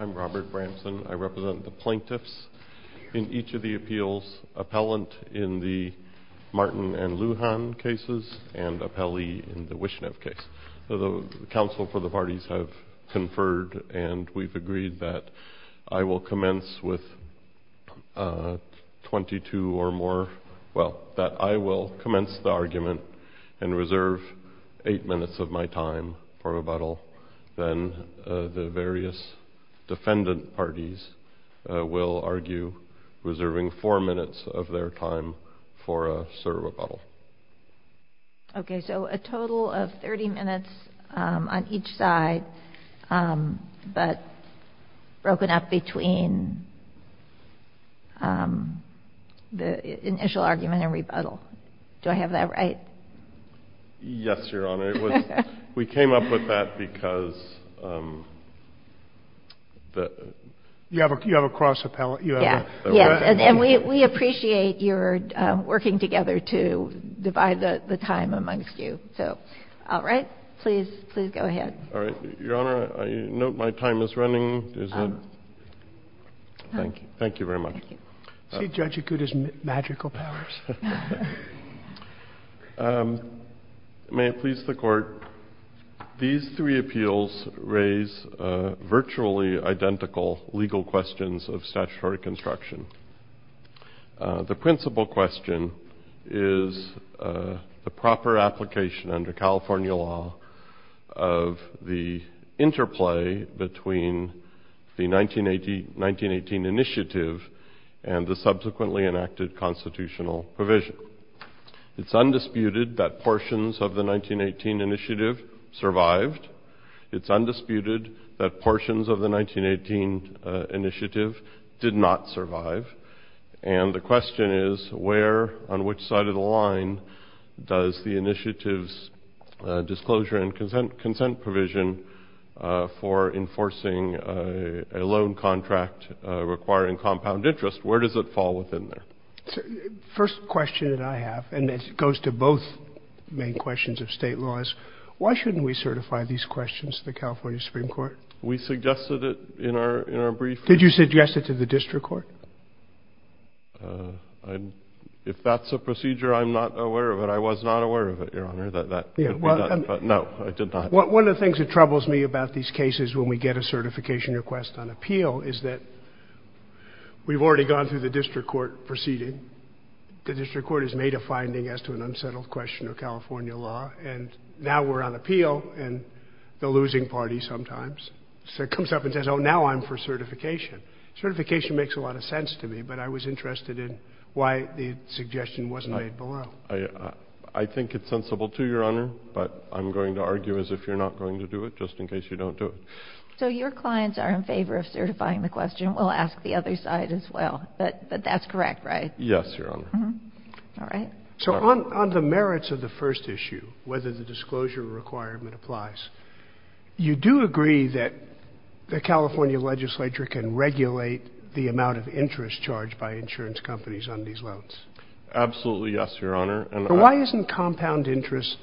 I'm Robert Bramson. I represent the plaintiffs in each of the appeals, appellant in the Martin and Lujan cases, and appellee in the Wishnev case. The counsel for the parties have conferred and we've agreed that I will commence with 22 or more, well, that I will commence the time for rebuttal, then the various defendant parties will argue, reserving four minutes of their time for a cert rebuttal. Okay, so a total of 30 minutes on each side, but broken up between the initial argument and rebuttal. Do I have that right? Yes, Your Honor. We came up with that because you have a cross appellate. Yes, yes, and we appreciate your working together to divide the time amongst you. So, all right, please go ahead. All right, Your Honor, I note my time is running. Thank you very much. See, Judge, you could use magical powers. May it please the Court, these three appeals raise virtually identical legal questions of statutory construction. The principal question is the proper application under California law of the interplay between the 1918 initiative and the subsequently enacted constitutional provision. It's undisputed that portions of the 1918 initiative survived. It's undisputed that portions of the 1918 initiative did not survive. And the question is, where on which side of the line does the initiative's disclosure and consent provision for enforcing a loan contract requiring compound interest, where does it fall within there? First question that I have, and it goes to both main questions of state laws, why shouldn't we certify these questions to the California Supreme Court? We suggested it in our brief. Did you suggest it to the district court? If that's a procedure, I'm not aware of it. I was not aware of it, Your Honor, but no, I did not. One of the things that troubles me about these cases when we get a certification request on appeal is that we've already gone through the district court proceeding. The district court has made a finding as to an unsettled question of California law, and now we're on appeal, and the losing party sometimes comes up and says, oh, now I'm for certification. Certification makes a lot of sense to me, but I was interested in why the suggestion wasn't made below. I think it's sensible to, Your Honor, but I'm going to argue as if you're not going to do it, just in case you don't do it. So your clients are in favor of certifying the question. We'll ask the other side as well. But that's correct, right? Yes, Your Honor. All right. So on the merits of the first issue, whether the disclosure requirement applies, you do agree that the California legislature can regulate the amount of interest charged by insurance companies on these loans? Absolutely, yes, Your Honor. Why isn't compound interest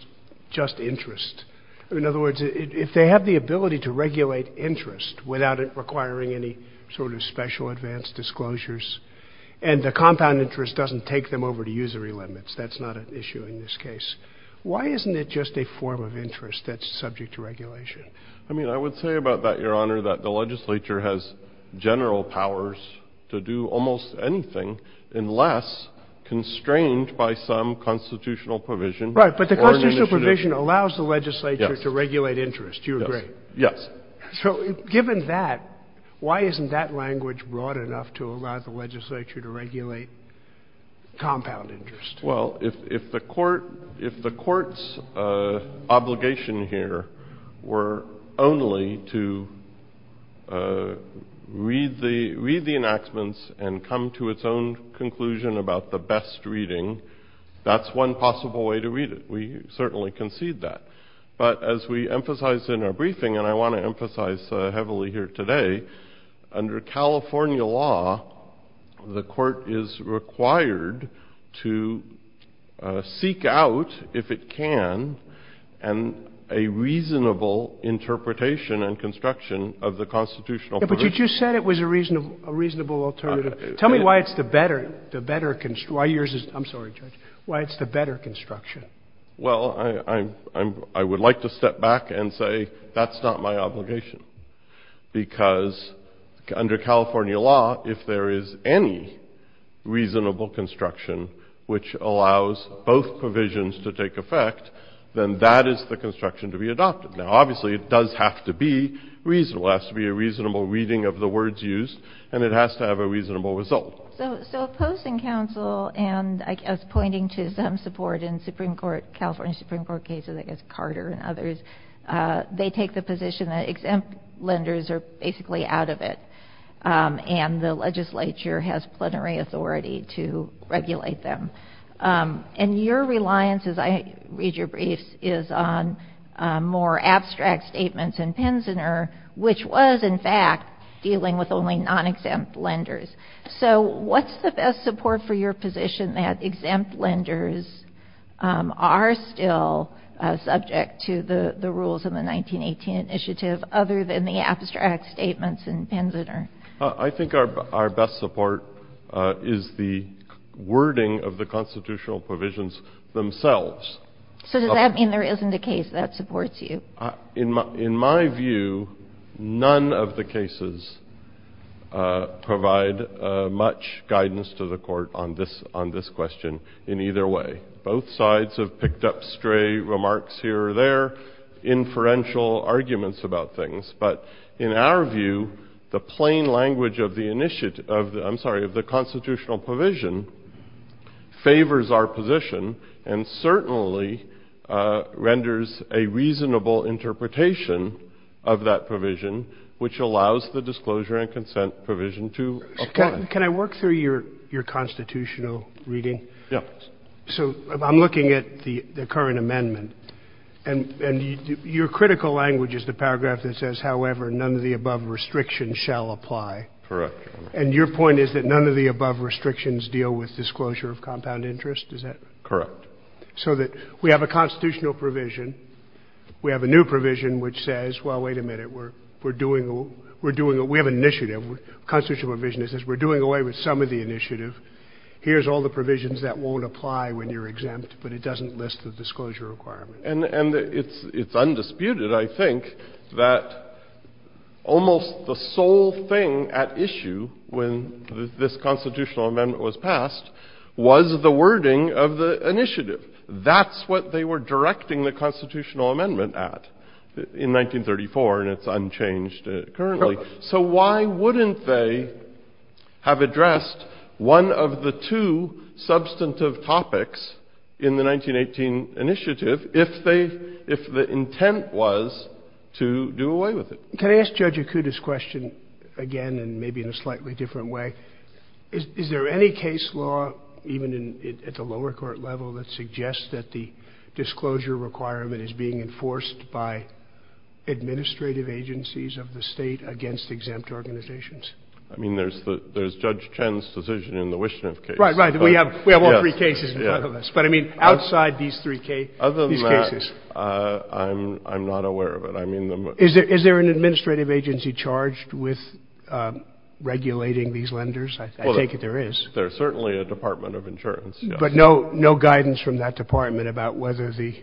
just interest? In other words, if they have the ability to regulate interest without it requiring any sort of special advanced disclosures, and the compound interest doesn't take them over to usury limits, that's not an issue in this case, why isn't it just a form of interest that's subject to regulation? I mean, I would say about that, Your Honor, that the legislature has general powers to do almost anything unless constrained by some constitutional provision or an initiative. Right, but the constitutional provision allows the legislature to regulate interest. Do you agree? Yes. So given that, why isn't that language broad enough to allow the legislature to regulate compound interest? Well, if the court's obligation here were only to read the enactments and come to its own conclusion about the best reading, that's one possible way to read it. We certainly concede that. But as we emphasized in our briefing, and I want to emphasize heavily here today, under California law, the court is required to seek out, if it can, a reasonable interpretation and construction of the constitutional provision. But you just said it was a reasonable alternative. Tell me why it's the better construction. Well, I would like to step back and say that's not my obligation, because under California law, if there is any reasonable construction which allows both provisions to take effect, then that is the construction to be adopted. Now, obviously, it does have to be reasonable. It has to be a reasonable reading of the words used, and it has to have a reasonable result. So Post and Counsel, and I was pointing to some support in Supreme Court, California Supreme Court cases, I guess Carter and others, they take the position that exempt lenders are basically out of it, and the legislature has plenary authority to regulate them. And your reliance, as I read your briefs, is on more abstract statements in Pensioner, which was, in fact, dealing with only non-exempt lenders. So what's the best support for your position that exempt lenders are still subject to the rules of the 1918 initiative, other than the abstract statements in Pensioner? I think our best support is the wording of the constitutional provisions themselves. So does that mean there isn't a case that supports you? In my view, none of the cases provide much guidance to the court on this question in either way. Both sides have picked up stray remarks here or there, inferential arguments about things. But in our view, the plain language of the initiative, I'm sorry, of the constitutional provision favors our position and certainly renders a reasonable interpretation of that provision, which allows the disclosure and consent provision to apply. Can I work through your constitutional reading? Yeah. So I'm looking at the current amendment, and your critical language is the paragraph that says, however, none of the above restrictions shall apply. Correct. And your point is that none of the above restrictions deal with disclosure of compound interest? Is that correct? Correct. So that we have a constitutional provision. We have a new provision which says, well, wait a minute, we're doing — we have an initiative. The constitutional provision says we're doing away with some of the initiative. Here's all the provisions that won't apply when you're exempt, but it doesn't list the disclosure requirement. And it's undisputed, I think, that almost the sole thing at issue when this constitutional amendment was passed was the wording of the initiative. That's what they were directing the constitutional amendment at in 1934, and it's unchanged currently. So why wouldn't they have addressed one of the two substantive topics in the 1918 initiative if they — if the intent was to do away with it? Can I ask Judge Akuta's question again, and maybe in a slightly different way? Is there any case law, even at the lower court level, that suggests that the disclosure requirement is being enforced by administrative agencies of the State against exempt organizations? I mean, there's Judge Chen's decision in the Wischner case. Right. Right. We have all three cases in front of us. Yes. So why these three cases? Other than that, I'm not aware of it. Is there an administrative agency charged with regulating these lenders? I take it there is. Well, there's certainly a Department of Insurance, yes. But no guidance from that department about whether the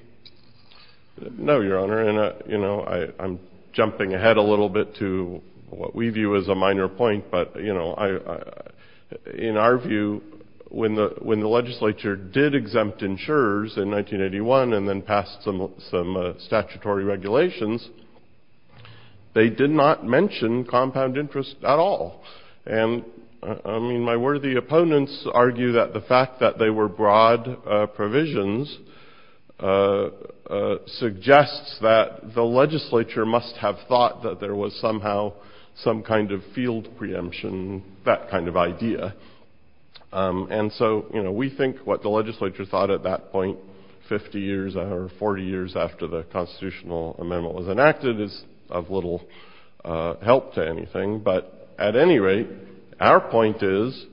— No, Your Honor, and I'm jumping ahead a little bit to what we view as a minor point, but you know, in our view, when the legislature did exempt insurers in 1981 and then passed some statutory regulations, they did not mention compound interest at all. And I mean, my worthy opponents argue that the fact that they were broad provisions suggests that the legislature must have thought that there was somehow some kind of field preemption, that kind of idea. And so, you know, we think what the legislature thought at that point, 50 years or 40 years after the constitutional amendment was enacted, is of little help to anything. But at any rate, our point is,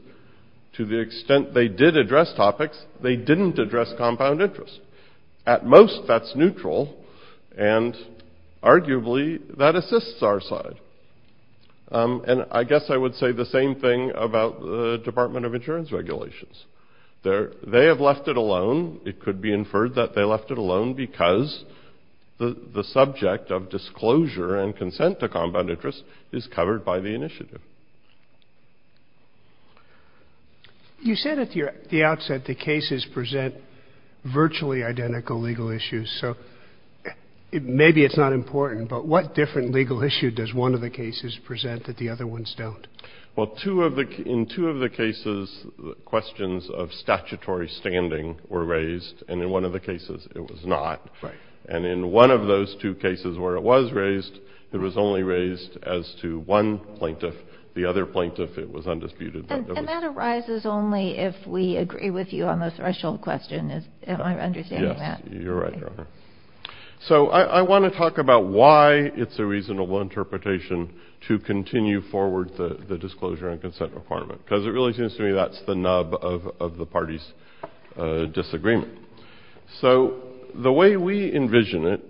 to the extent they did address topics, they didn't address compound interest. At most, that's neutral, and arguably, that assists our side. And I guess I would say the same thing about the Department of Insurance regulations. They have left it alone. It could be inferred that they left it alone because the subject of disclosure and consent to compound interest is covered by the initiative. You said at the outset the cases present virtually identical legal issues. So maybe it's not important, but what different legal issue does one of the cases present that the other ones don't? Well, in two of the cases, questions of statutory standing were raised, and in one of the cases, it was not. Right. And in one of those two cases where it was raised, it was only raised as to one plaintiff. The other plaintiff, it was undisputed. And that arises only if we agree with you on the threshold question. Am I understanding that? Yes. You're right, Your Honor. So I want to talk about why it's a reasonable interpretation to continue forward the disclosure and consent requirement, because it really seems to me that's the nub of the parties' disagreement. So the way we envision it,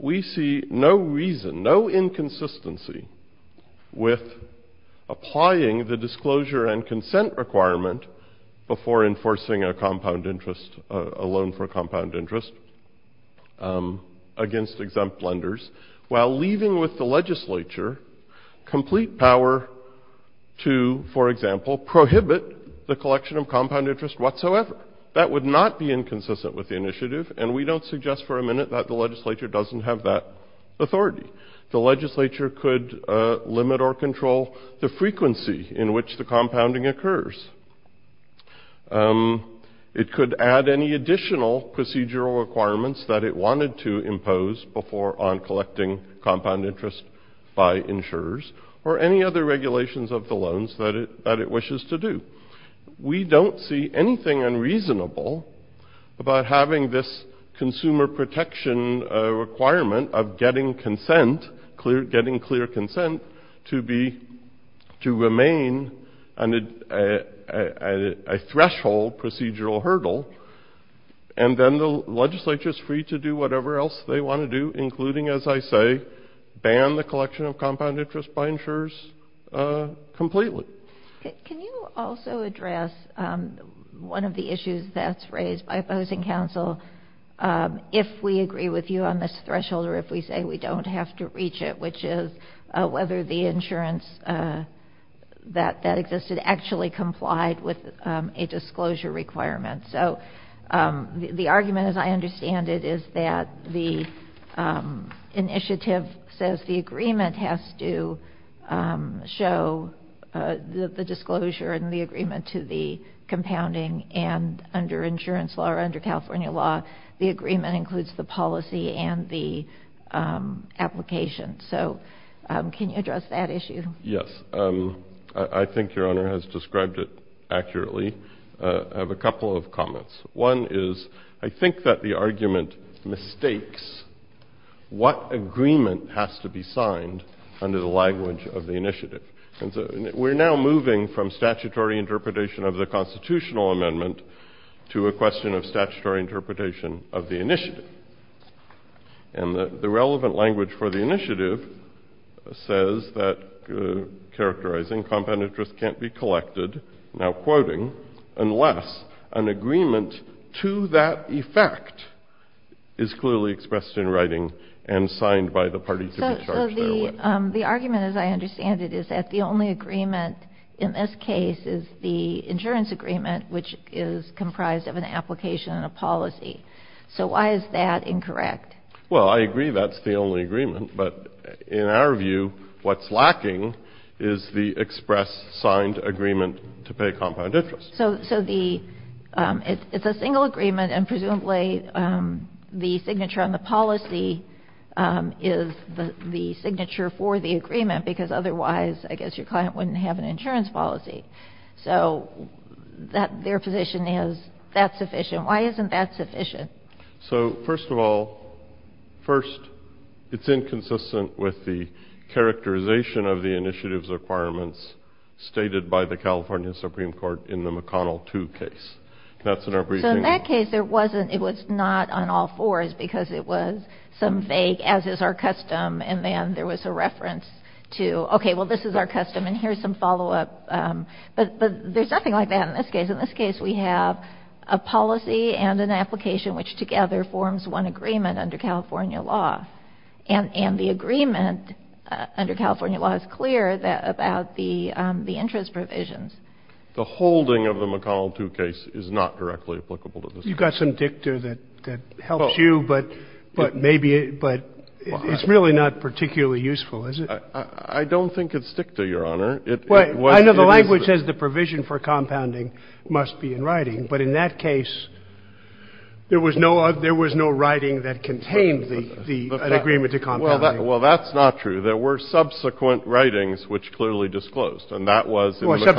we see no reason, no inconsistency with applying the disclosure and consent requirement before enforcing a compound interest, a loan for compound interest against exempt lenders, while leaving with the legislature complete power to, for example, prohibit the collection of compound interest whatsoever. That would not be inconsistent with the initiative, and we don't suggest for a minute that the legislature doesn't have that authority. The legislature could limit or control the frequency in which the compounding occurs. It could add any additional procedural requirements that it wanted to impose before on collecting We don't see anything unreasonable about having this consumer protection requirement of getting consent, getting clear consent, to remain a threshold procedural hurdle, and then the legislature is free to do whatever else they want to do, including, as I say, ban the collection of compound interest by insurers completely. Can you also address one of the issues that's raised by opposing counsel, if we agree with you on this threshold, or if we say we don't have to reach it, which is whether the insurance that existed actually complied with a disclosure requirement? So, the argument, as I understand it, is that the initiative says the agreement has to show the disclosure and the agreement to the compounding, and under insurance law or under California law, the agreement includes the policy and the application. So can you address that issue? Yes. I think Your Honor has described it accurately. I have a couple of comments. One is, I think that the argument mistakes what agreement has to be signed under the language of the initiative. We're now moving from statutory interpretation of the constitutional amendment to a question of statutory interpretation of the initiative. And the relevant language for the initiative says that characterizing compound interest can't be collected, now quoting, unless an agreement to that effect is clearly expressed in writing and signed by the party to be charged that way. The argument, as I understand it, is that the only agreement in this case is the insurance agreement, which is comprised of an application and a policy. So why is that incorrect? Well, I agree that's the only agreement, but in our view, what's lacking is the express signed agreement to pay compound interest. So it's a single agreement, and presumably, the signature on the policy is the signature for the agreement, because otherwise, I guess your client wouldn't have an insurance policy. So their position is that's sufficient. Why isn't that sufficient? So first of all, first, it's inconsistent with the characterization of the initiative's requirements stated by the California Supreme Court in the McConnell 2 case. That's in our briefing. So in that case, it was not on all fours, because it was some vague, as is our custom, and then there was a reference to, OK, well, this is our custom, and here's some follow-up. But there's nothing like that in this case. In this case, we have a policy and an application, which together forms one agreement under California law. And the agreement under California law is clear about the interest provisions. The holding of the McConnell 2 case is not directly applicable to this case. You've got some dicta that helps you, but maybe it's really not particularly useful, is it? I don't think it's dicta, Your Honor. It was the other way. I know the language says the provision for compounding must be in writing, but in that writing that contained the agreement to compounding. Well, that's not true. There were subsequent writings which clearly disclosed, and that was in the McConnell 2 case. Well,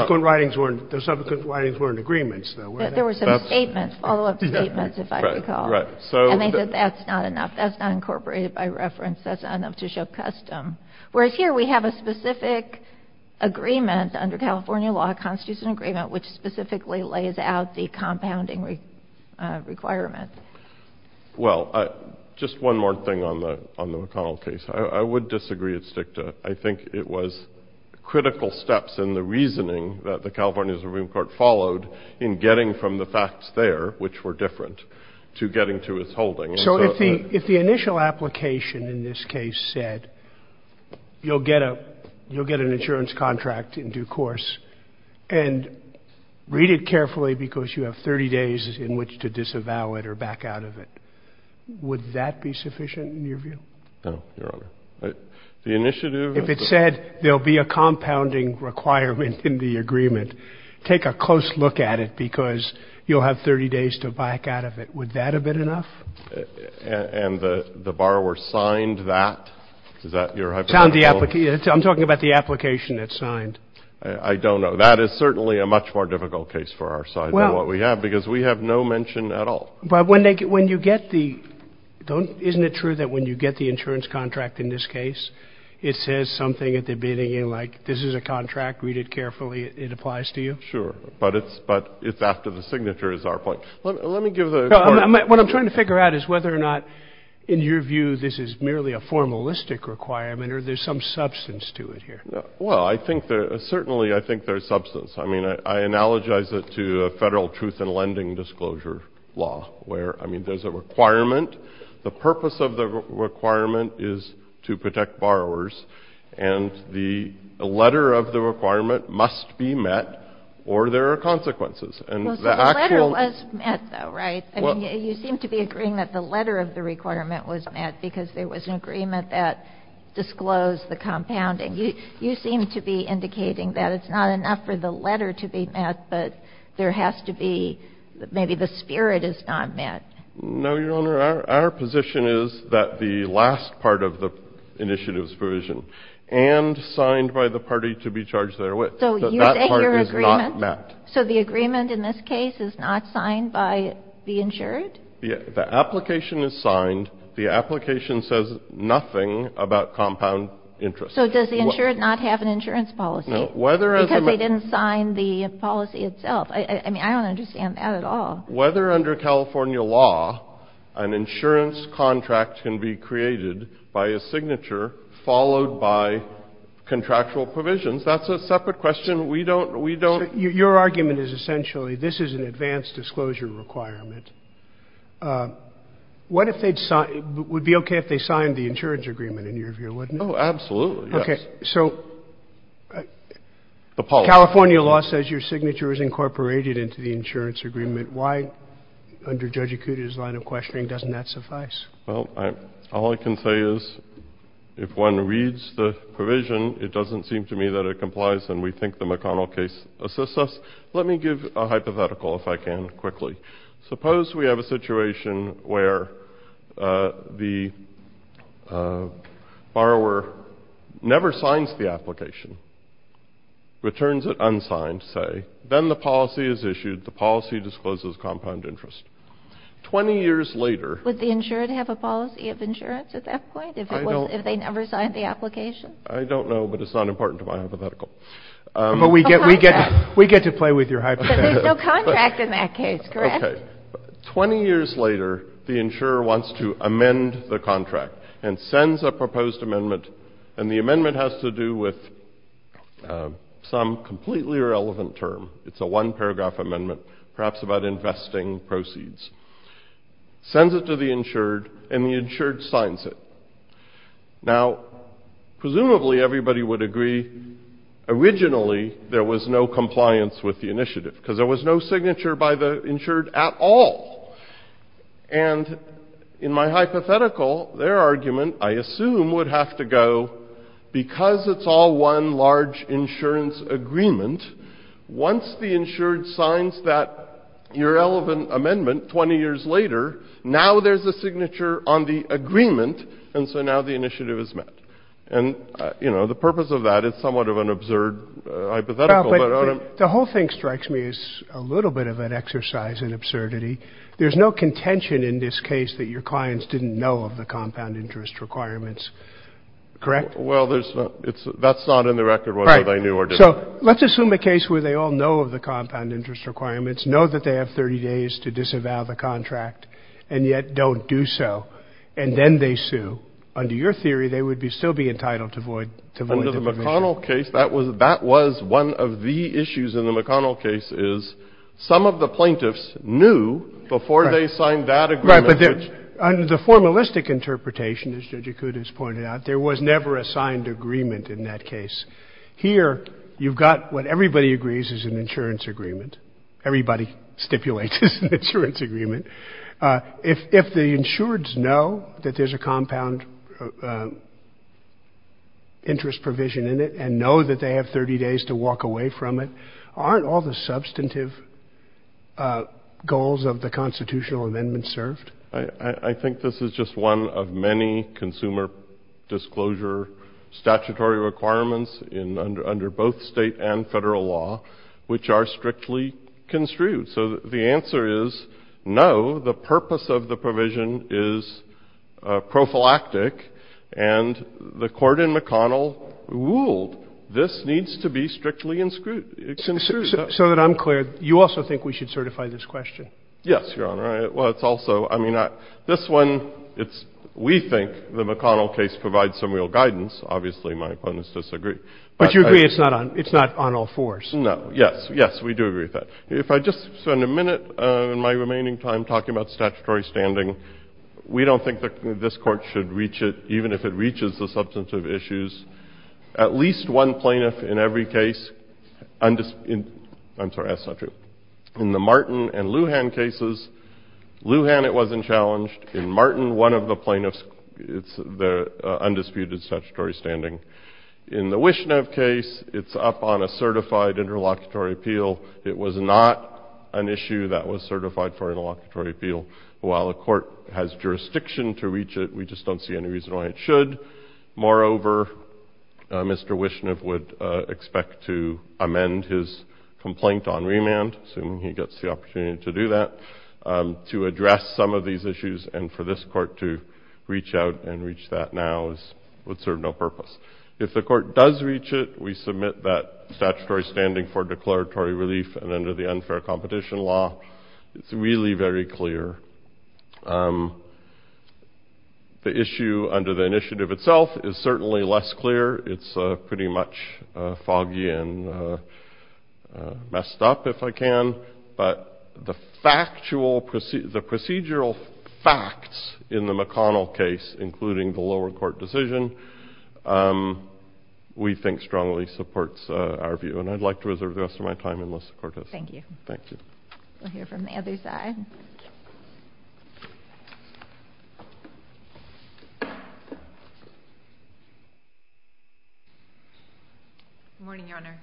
subsequent writings were in agreements, though, weren't they? There were some statements, follow-up statements, if I recall. Right. Right. And they said that's not enough. That's not incorporated by reference. That's not enough to show custom, whereas here we have a specific agreement under California law, a constitutional agreement, which specifically lays out the compounding requirement. Well, just one more thing on the McConnell case. I would disagree. It's dicta. I think it was critical steps in the reasoning that the California Supreme Court followed in getting from the facts there, which were different, to getting to its holding. So if the initial application in this case said, you'll get an insurance contract in due course and read it carefully because you have 30 days in which to disavow it or to back out of it, would that be sufficient in your view? No, Your Honor. The initiative... If it said there'll be a compounding requirement in the agreement, take a close look at it because you'll have 30 days to back out of it. Would that have been enough? And the borrower signed that? Is that your hypothetical... Signed the... I'm talking about the application that's signed. I don't know. That is certainly a much more difficult case for our side than what we have because we have no mention at all. But when you get the... Isn't it true that when you get the insurance contract in this case, it says something at the beginning, like, this is a contract, read it carefully, it applies to you? Sure. But it's after the signature is our point. Let me give the... What I'm trying to figure out is whether or not, in your view, this is merely a formalistic requirement or there's some substance to it here. Well, I think there... Certainly I think there's substance. I mean, I analogize it to a federal truth-in-lending disclosure law where, I mean, there's a requirement. The purpose of the requirement is to protect borrowers. And the letter of the requirement must be met or there are consequences. And the actual... Well, so the letter was met, though, right? I mean, you seem to be agreeing that the letter of the requirement was met because there was an agreement that disclosed the compounding. You seem to be indicating that it's not enough for the letter to be met, but there has to be... Maybe the spirit is not met. No, Your Honor. Our position is that the last part of the initiative's provision and signed by the party to be charged therewith, that that part is not met. So you think your agreement... So the agreement in this case is not signed by the insured? The application is signed. The application says nothing about compound interest. So does the insured not have an insurance policy because they didn't sign the policy itself? I mean, I don't understand that at all. Whether, under California law, an insurance contract can be created by a signature followed by contractual provisions, that's a separate question. We don't, we don't... Your argument is essentially this is an advanced disclosure requirement. What if they'd sign, it would be okay if they signed the insurance agreement in your view, wouldn't it? Oh, absolutely, yes. Okay. So California law says your signature is incorporated into the insurance agreement. Why, under Judge Acuda's line of questioning, doesn't that suffice? Well, all I can say is if one reads the provision, it doesn't seem to me that it complies, and we think the McConnell case assists us. Let me give a hypothetical, if I can, quickly. Suppose we have a situation where the borrower never signs the application, returns it unsigned, say, then the policy is issued, the policy discloses compound interest. Twenty years later... Would the insured have a policy of insurance at that point, if it was, if they never signed the application? I don't know, but it's not important to my hypothetical. But we get, we get, we get to play with your hypothetical. But there's no contract in that case, correct? Okay. Twenty years later, the insurer wants to amend the contract and sends a proposed amendment, and the amendment has to do with some completely irrelevant term. It's a one-paragraph amendment, perhaps about investing proceeds. Sends it to the insured, and the insured signs it. Now, presumably, everybody would agree, originally, there was no compliance with the initiative, because there was no signature by the insured at all. And in my hypothetical, their argument, I assume, would have to go, because it's all one large insurance agreement, once the insured signs that irrelevant amendment 20 years later, now there's a signature on the agreement, and so now the initiative is met. And, you know, the purpose of that is somewhat of an absurd hypothetical. But the whole thing strikes me as a little bit of an exercise in absurdity. There's no contention in this case that your clients didn't know of the compound interest requirements, correct? Well, there's not, it's, that's not in the record whether they knew or didn't. So let's assume a case where they all know of the compound interest requirements, know that they have 30 days to disavow the contract, and yet don't do so. And then they sue. Under your theory, they would be, still be entitled to void, to void the permission. In the McConnell case, that was, that was one of the issues in the McConnell case is, some of the plaintiffs knew before they signed that agreement. Right, but there, under the formalistic interpretation, as Judge Acuda has pointed out, there was never a signed agreement in that case. Here, you've got what everybody agrees is an insurance agreement. Everybody stipulates it's an insurance agreement. If, if the insureds know that there's a compound interest provision in the insurance agreement, and know that they have 30 days to walk away from it, aren't all the substantive goals of the constitutional amendment served? I, I, I think this is just one of many consumer disclosure statutory requirements in, under, under both state and federal law, which are strictly construed. So the answer is, no, the purpose of the provision is prophylactic, and the court in McConnell ruled this needs to be strictly construed. So, so that I'm clear, you also think we should certify this question? Yes, Your Honor, I, well, it's also, I mean, I, this one, it's, we think the McConnell case provides some real guidance. Obviously, my opponents disagree. But you agree it's not on, it's not on all fours? No, yes, yes, we do agree with that. If I just spend a minute in my remaining time talking about statutory standing, we don't think that this Court should reach it, even if it reaches the substantive issues. At least one plaintiff in every case undis, in, I'm sorry, that's not true. In the Martin and Lujan cases, Lujan it wasn't challenged. In Martin, one of the plaintiffs, it's the undisputed statutory standing. In the Wishnev case, it's up on a certified interlocutory appeal. It was not an issue that was certified for interlocutory appeal. While a court has jurisdiction to reach it, we just don't see any reason why it should. Moreover, Mr. Wishnev would expect to amend his complaint on remand, assuming he gets the opportunity to do that, to address some of these issues. And for this court to reach out and reach that now is, would serve no purpose. If the court does reach it, we submit that statutory standing for declaratory relief. And under the unfair competition law, it's really very clear. The issue under the initiative itself is certainly less clear. It's pretty much foggy and messed up, if I can. But the factual, the procedural facts in the McConnell case, including the lower court decision, we think strongly supports our view. And I'd like to reserve the rest of my time unless the court does. Thank you. Thank you. We'll hear from the other side. Morning, Your Honor.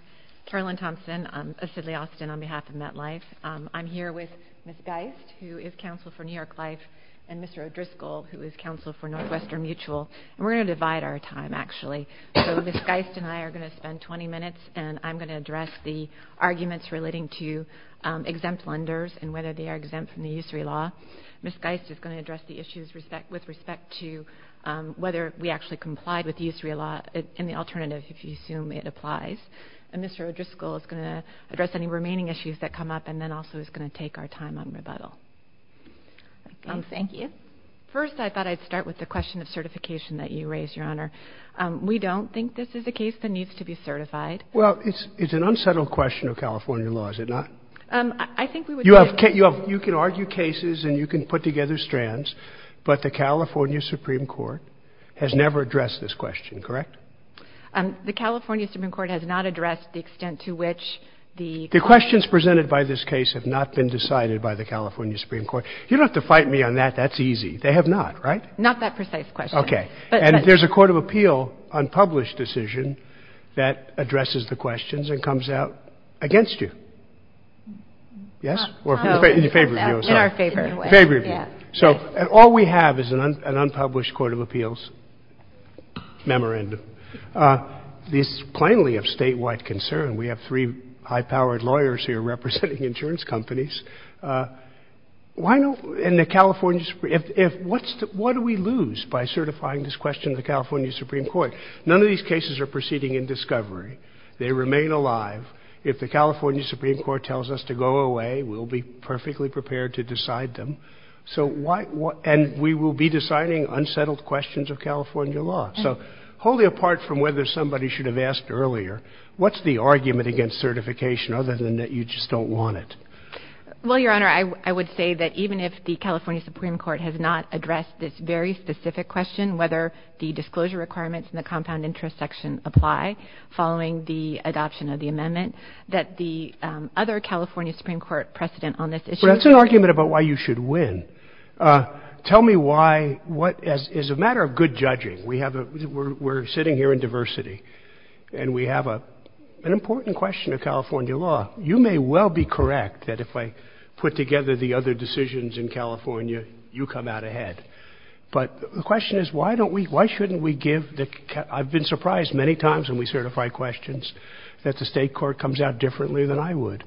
Carolyn Thompson of Sidley Austin on behalf of MetLife. I'm here with Ms. Geist, who is counsel for New York Life, and Mr. O'Driscoll, who is counsel for Northwestern Mutual. And we're going to divide our time, actually. So Ms. Geist and I are going to spend 20 minutes, and I'm going to address the issue of lenders, and whether they are exempt from the usury law. Ms. Geist is going to address the issues with respect to whether we actually complied with the usury law, and the alternative, if you assume it applies. And Mr. O'Driscoll is going to address any remaining issues that come up, and then also is going to take our time on rebuttal. Thank you. First, I thought I'd start with the question of certification that you raised, Your Honor. We don't think this is a case that needs to be certified. Well, it's an unsettled question of California law, is it not? I think we would say it is. You can argue cases, and you can put together strands, but the California Supreme Court has never addressed this question, correct? The California Supreme Court has not addressed the extent to which the- The questions presented by this case have not been decided by the California Supreme Court. You don't have to fight me on that, that's easy. They have not, right? Not that precise question. Okay. And there's a court of appeal, unpublished decision, that addresses the questions and comes out against you. Yes, or in your favor of you, I'm sorry. In our favor. Favor of you. So all we have is an unpublished court of appeals memorandum. This is plainly of statewide concern. We have three high-powered lawyers here representing insurance companies. Why don't, in the California, if, if, what's the, what do we lose by certifying this question to the California Supreme Court? None of these cases are proceeding in discovery. They remain alive. If the California Supreme Court tells us to go away, we'll be perfectly prepared to decide them. So why, what, and we will be deciding unsettled questions of California law. So wholly apart from whether somebody should have asked earlier, what's the argument against certification other than that you just don't want it? Well, Your Honor, I, I would say that even if the California Supreme Court has not addressed this very specific question, whether the disclosure requirements and the compound interest section apply following the adoption of the amendment, that the other California Supreme Court precedent on this issue- Well, that's an argument about why you should win. Tell me why, what, as, as a matter of good judging, we have a, we're, we're sitting here in diversity, and we have a, an important question of California law. You may well be correct that if I put together the other decisions in California, you come out ahead. But the question is, why don't we, why shouldn't we give the, I've been surprised many times when we certify questions that the state court comes out differently than I would.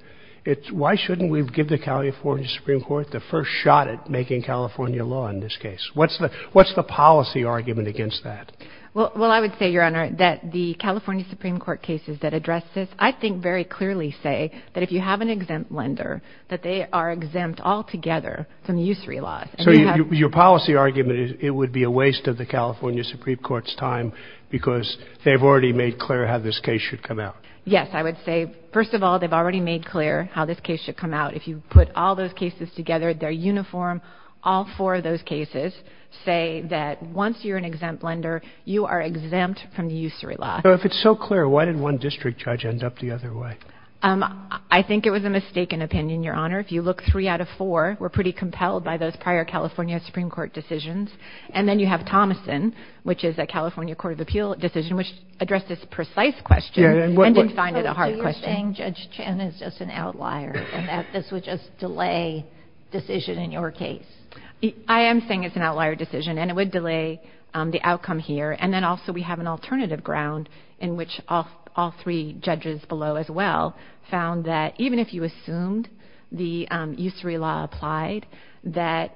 It's, why shouldn't we give the California Supreme Court the first shot at making California law in this case? What's the, what's the policy argument against that? Well, well, I would say, Your Honor, that the California Supreme Court cases that address this, I think, very clearly say that if you have an exempt lender, that they are exempt altogether from the use-free laws. So you, your policy argument is it would be a waste of the California Supreme Court's time, because they've already made clear how this case should come out. Yes, I would say, first of all, they've already made clear how this case should come out. If you put all those cases together, they're uniform. All four of those cases say that once you're an exempt lender, you are exempt from the use-free law. So if it's so clear, why did one district judge end up the other way? I think it was a mistaken opinion, Your Honor. If you look, three out of four were pretty compelled by those prior California Supreme Court decisions. And then you have Thomason, which is a California Court of Appeal decision, which addressed this precise question and didn't find it a hard question. So you're saying Judge Chan is just an outlier and that this would just delay decision in your case? I am saying it's an outlier decision, and it would delay the outcome here. And then also we have an alternative ground in which all three judges below, as well, found that even if you assumed the use-free law applied, that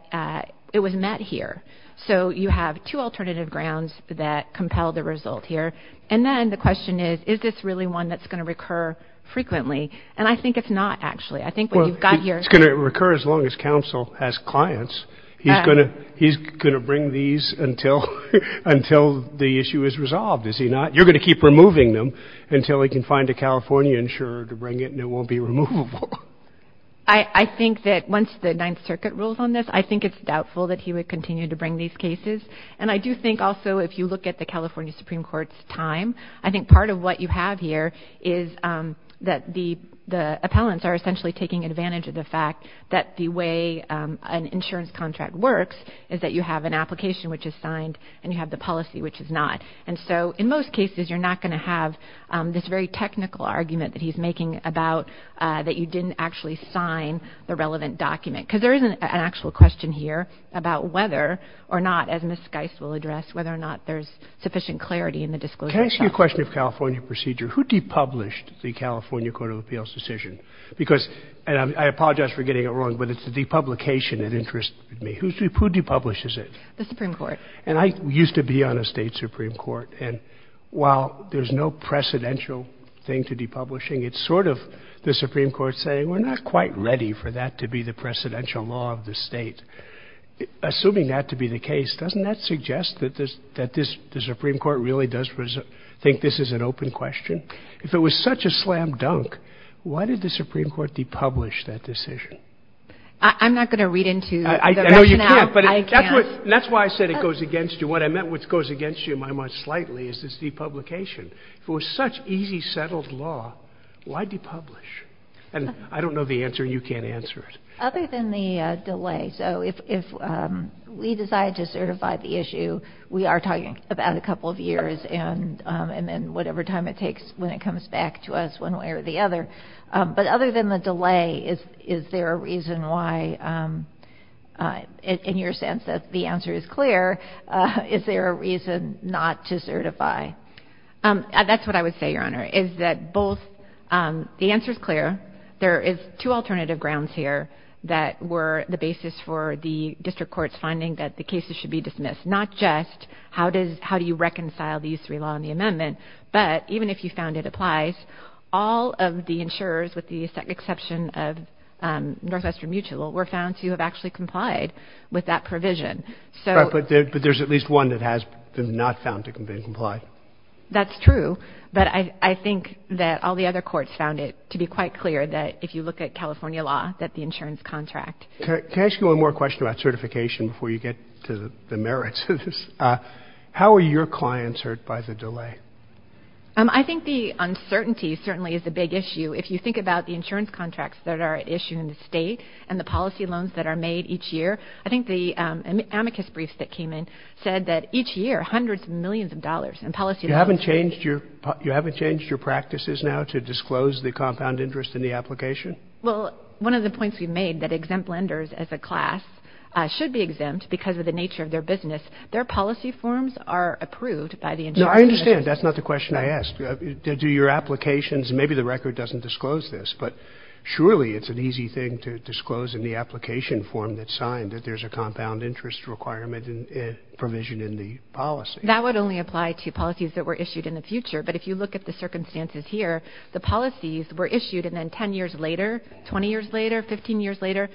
it was met here. So you have two alternative grounds that compel the result here. And then the question is, is this really one that's going to recur frequently? And I think it's not, actually. I think what you've got here- It's going to recur as long as counsel has clients. He's going to bring these until the issue is resolved, is he not? You're going to keep removing them until he can find a California insurer to bring it, and it won't be removable. I think that once the Ninth Circuit rules on this, I think it's doubtful that he would continue to bring these cases. And I do think, also, if you look at the California Supreme Court's time, I think part of what you have here is that the appellants are essentially taking advantage of the fact that the way an insurance contract works is that you have an application which is signed and you have the policy which is not. And so, in most cases, you're not going to have this very technical argument that he's making about that you didn't actually sign the relevant document. Because there isn't an actual question here about whether or not, as Ms. Geis will address, whether or not there's sufficient clarity in the disclosure. Can I ask you a question of California procedure? Who de-published the California Court of Appeals decision? Because, and I apologize for getting it wrong, but it's the de-publication that interests me. Who de-publishes it? The Supreme Court. And I used to be on a state Supreme Court. And while there's no precedential thing to de-publishing, it's sort of the Supreme Court saying, we're not quite ready for that to be the precedential law of the state. Assuming that to be the case, doesn't that suggest that this, that this, the Supreme Court really does think this is an open question? If it was such a slam dunk, why did the Supreme Court de-publish that decision? I'm not going to read into the rationale. I know you can't, but that's why I said it goes against you. What I meant, which goes against you in my mind slightly, is this de-publication. If it was such easy, settled law, why de-publish? And I don't know the answer, you can't answer it. Other than the delay, so if we decide to certify the issue, we are talking about a couple of years, and then whatever time it takes when it comes back to us, one way or the other. But other than the delay, is there a reason why, in your sense that the answer is clear, is there a reason not to certify? That's what I would say, Your Honor, is that both, the answer's clear. There is two alternative grounds here that were the basis for the district court's finding that the cases should be dismissed. Not just how do you reconcile these three law and the amendment, but even if you found it applies, all of the insurers, with the exception of Northwestern Mutual, were found to have actually complied with that provision. So- But there's at least one that has been not found to have been complied. That's true, but I think that all the other courts found it to be quite clear that if you look at California law, that the insurance contract- Can I ask you one more question about certification before you get to the merits of this? How are your clients hurt by the delay? I think the uncertainty certainly is a big issue. If you think about the insurance contracts that are issued in the state and the policy loans that are made each year, I think the amicus briefs that came in said that each year, hundreds of millions of dollars in policy loans- You haven't changed your practices now to disclose the compound interest in the application? Well, one of the points we've made, that exempt lenders as a class should be exempt because of the nature of their business. Their policy forms are approved by the insurance- No, I understand. That's not the question I asked. Do your applications- Maybe the record doesn't disclose this, but surely it's an easy thing to disclose in the application form that's signed, that there's a compound interest requirement provision in the policy. That would only apply to policies that were issued in the future, but if you look at the circumstances here, the policies were issued and then 10 years later, 20 years later, 15 years later,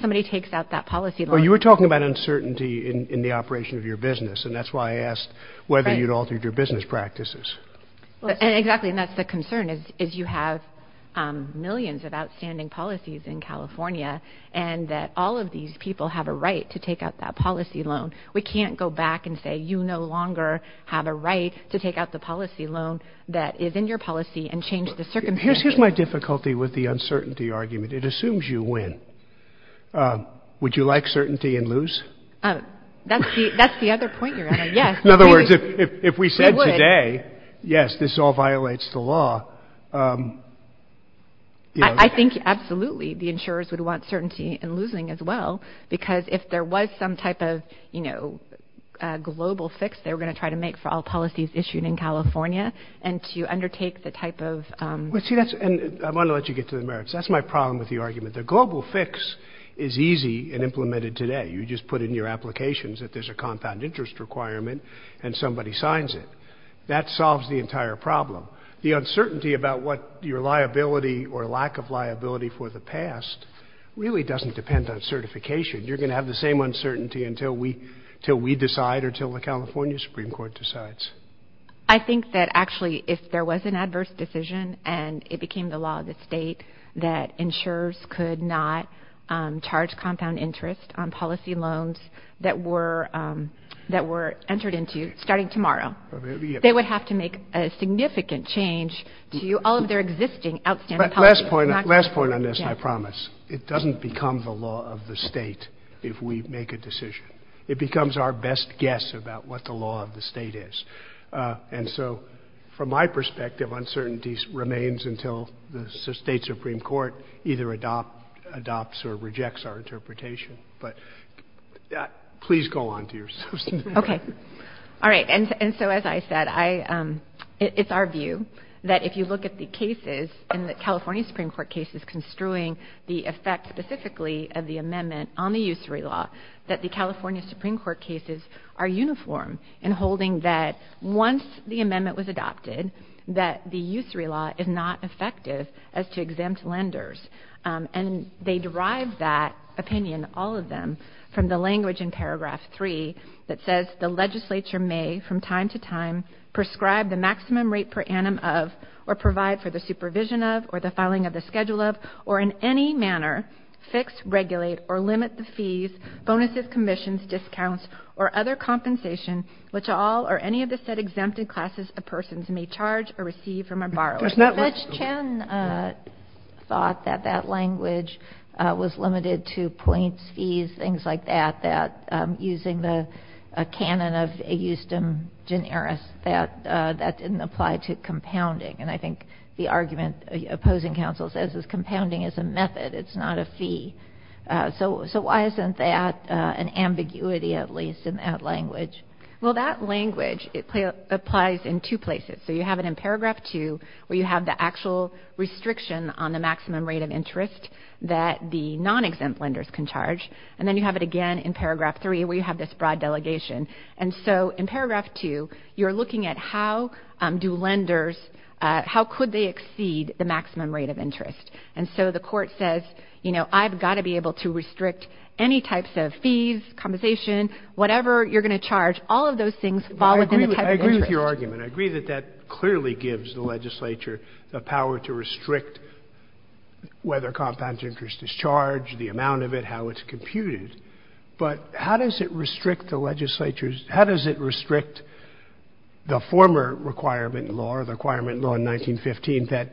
somebody takes out that policy loan. Well, you were talking about uncertainty in the operation of your business, and that's why I asked whether you'd altered your business practices. Exactly, and that's the concern, is you have millions of outstanding policies in California, and that all of these people have a right to take out that policy loan. We can't go back and say, you no longer have a right to take out the policy loan that is in your policy and change the circumstances. Here's my difficulty with the uncertainty argument. It assumes you win. Would you like certainty and lose? That's the other point you're getting at, yes. In other words, if we said today, yes, this all violates the law, you know. I think absolutely the insurers would want certainty and losing as well, because if there was some type of, you know, global fix they were going to try to make for all policies issued in California, and to undertake the type of – Well, see, that's – and I want to let you get to the merits. That's my problem with the argument. The global fix is easy and implemented today. You just put in your applications that there's a compound interest requirement and somebody signs it. That solves the entire problem. The uncertainty about what your liability or lack of liability for the past really doesn't depend on certification. You're going to have the same uncertainty until we – until we decide or until the California Supreme Court decides. I think that actually if there was an adverse decision and it became the law of insurers could not charge compound interest on policy loans that were – that were entered into starting tomorrow, they would have to make a significant change to all of their existing outstanding policy. Last point – last point on this, and I promise. It doesn't become the law of the state if we make a decision. It becomes our best guess about what the law of the state is. And so from my perspective, uncertainty remains until the state Supreme Court either adopts or rejects our interpretation. But please go on to your – Okay. All right. And so as I said, I – it's our view that if you look at the cases in the California Supreme Court cases construing the effect specifically of the amendment on the usury law, that the California Supreme Court cases are uniform in holding that once the amendment was adopted that the usury law is not effective as to exempt lenders. And they derive that opinion, all of them, from the language in paragraph 3 that says the legislature may from time to time prescribe the maximum rate per annum of or provide for the supervision of or the filing of the schedule of or in any manner fix, regulate, or limit the fees, bonuses, commissions, discounts, or other compensation which all or any of the set exempted classes of persons may charge or receive from a borrower. That's not what – Judge Chen thought that that language was limited to points, fees, things like that, that using the canon of a justum generis, that that didn't apply to compounding. And I think the argument opposing counsel says is compounding is a method, it's not a fee. So why isn't that an ambiguity at least in that language? Well, that language, it applies in two places. So you have it in paragraph 2 where you have the actual restriction on the maximum rate of interest that the non-exempt lenders can charge and then you have it again in paragraph 3 where you have this broad delegation. And so in paragraph 2, you're looking at how do lenders – how could they exceed the maximum rate of interest? And so the court says, you know, I've got to be able to restrict any types of fees, compensation, whatever you're going to charge, all of those things fall within the type of interest. I agree with your argument. I agree that that clearly gives the legislature the power to restrict whether compound interest is charged, the amount of it, how it's computed. But how does it restrict the legislature's – how does it restrict the former requirement law, the requirement law in 1915 that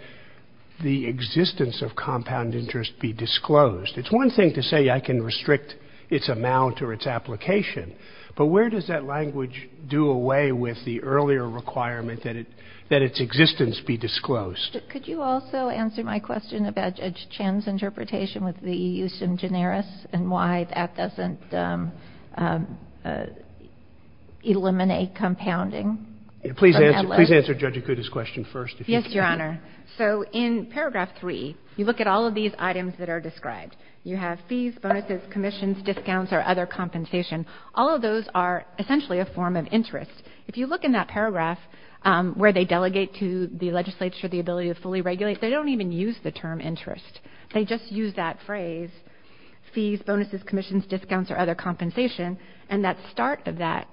the existence of compound interest be disclosed? It's one thing to say I can restrict its amount or its application, but where does that language do away with the earlier requirement that its existence be disclosed? But could you also answer my question about Judge Chen's interpretation with the use of generis and why that doesn't eliminate compounding? Please answer Judge Akuta's question first. Yes, Your Honor. So in paragraph 3, you look at all of these items that are described. You have fees, bonuses, commissions, discounts, or other compensation. All of those are essentially a form of interest. If you look in that paragraph where they delegate to the legislature the ability to fully regulate, they don't even use the term interest. They just use that phrase, fees, bonuses, commissions, discounts, or other compensation. And that start of that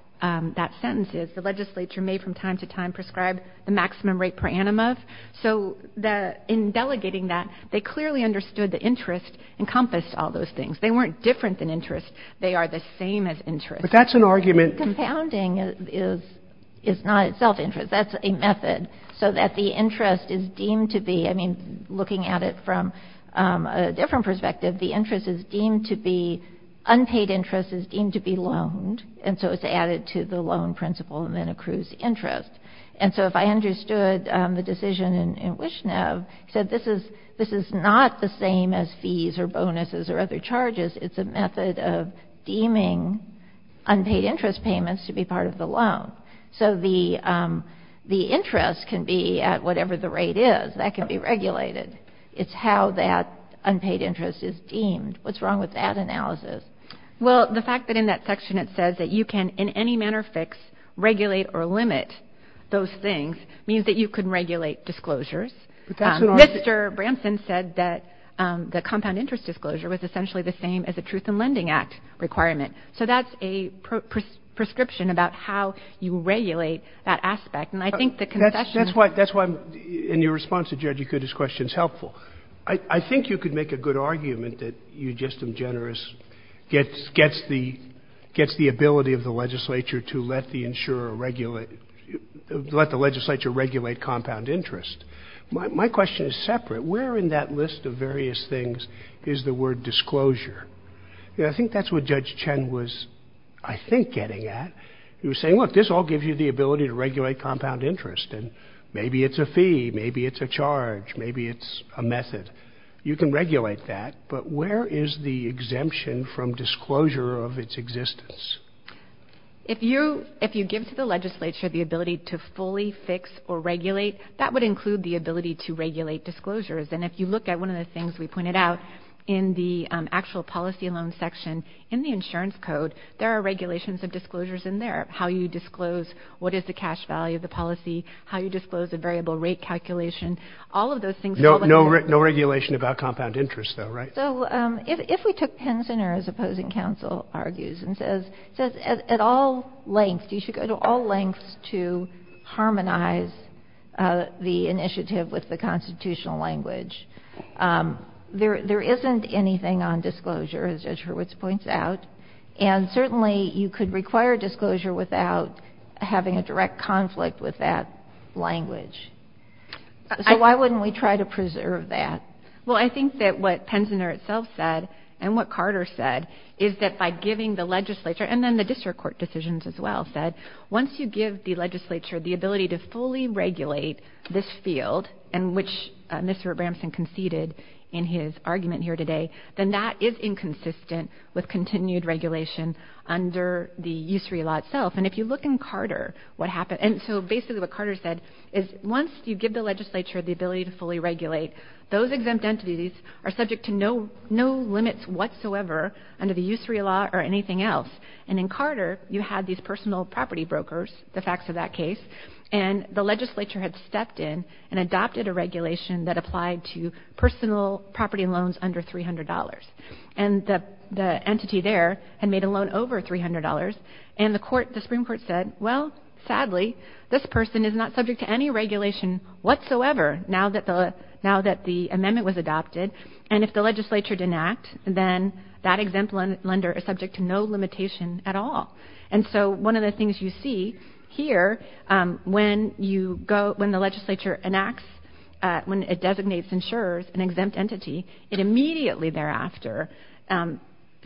sentence is the legislature may from time to time prescribe the maximum rate per annum of. So in delegating that, they clearly understood the interest encompassed all those things. They weren't different than interest. They are the same as interest. But that's an argument – Compounding is not itself interest. That's a method so that the interest is deemed to be – I mean, looking at it from a different perspective, the interest is deemed to be – unpaid interest is deemed to be loaned. And so it's added to the loan principle and then accrues interest. And so if I understood the decision in Wishnev, he said this is not the same as fees or bonuses or other charges. It's a method of deeming unpaid interest payments to be part of the loan. So the interest can be at whatever the rate is. That can be regulated. It's how that unpaid interest is deemed. What's wrong with that analysis? Well, the fact that in that section it says that you can in any manner fix, regulate or limit those things means that you can regulate disclosures. Mr. Branson said that the compound interest disclosure was essentially the same as the Truth in Lending Act requirement. So that's a prescription about how you regulate that aspect. And I think the concession – That's why in your response to Judge Ikuda's question is helpful. I think you could make a good argument that Eugestam Generis gets the ability of the legislature to let the insurer regulate – let the legislature regulate compound interest. My question is separate. Where in that list of various things is the word disclosure? I think that's what Judge Chen was, I think, getting at. He was saying, look, this all gives you the ability to regulate compound interest. And maybe it's a fee. Maybe it's a charge. Maybe it's a method. You can regulate that. But where is the exemption from disclosure of its existence? If you give to the legislature the ability to fully fix or regulate, that would include the ability to regulate disclosures. And if you look at one of the things we pointed out in the actual policy loan section, in the insurance code, there are regulations of disclosures in there, how you disclose what is the cash value of the policy, how you disclose a variable rate calculation. All of those things are all in there. No regulation about compound interest, though, right? So if we took Pensioner's opposing counsel argues and says at all lengths, you should go to all lengths to harmonize the initiative with the constitutional language, there isn't anything on disclosure, as Judge Hurwitz points out. And certainly you could require disclosure without having a direct conflict with that language. So why wouldn't we try to preserve that? Well, I think that what Pensioner itself said and what Carter said is that by giving the legislature, and then the district court decisions as well said, once you give the legislature the ability to fully regulate this field, and which Mr. Bramson conceded in his argument here today, then that is inconsistent with continued regulation under the USREA law itself. And if you look in Carter, what happened... So basically what Carter said is once you give the legislature the ability to fully regulate, those exempt entities are subject to no limits whatsoever under the USREA law or anything else. And in Carter, you had these personal property brokers, the facts of that case, and the legislature had stepped in and adopted a regulation that applied to personal property loans under $300. And the entity there had made a loan over $300, and the Supreme Court said, well, sadly, this person is not subject to any regulation whatsoever now that the amendment was adopted. And if the legislature didn't act, then that exempt lender is subject to no limitation at all. And so one of the things you see here, when the legislature enacts, when it designates insurers an exempt entity, it immediately thereafter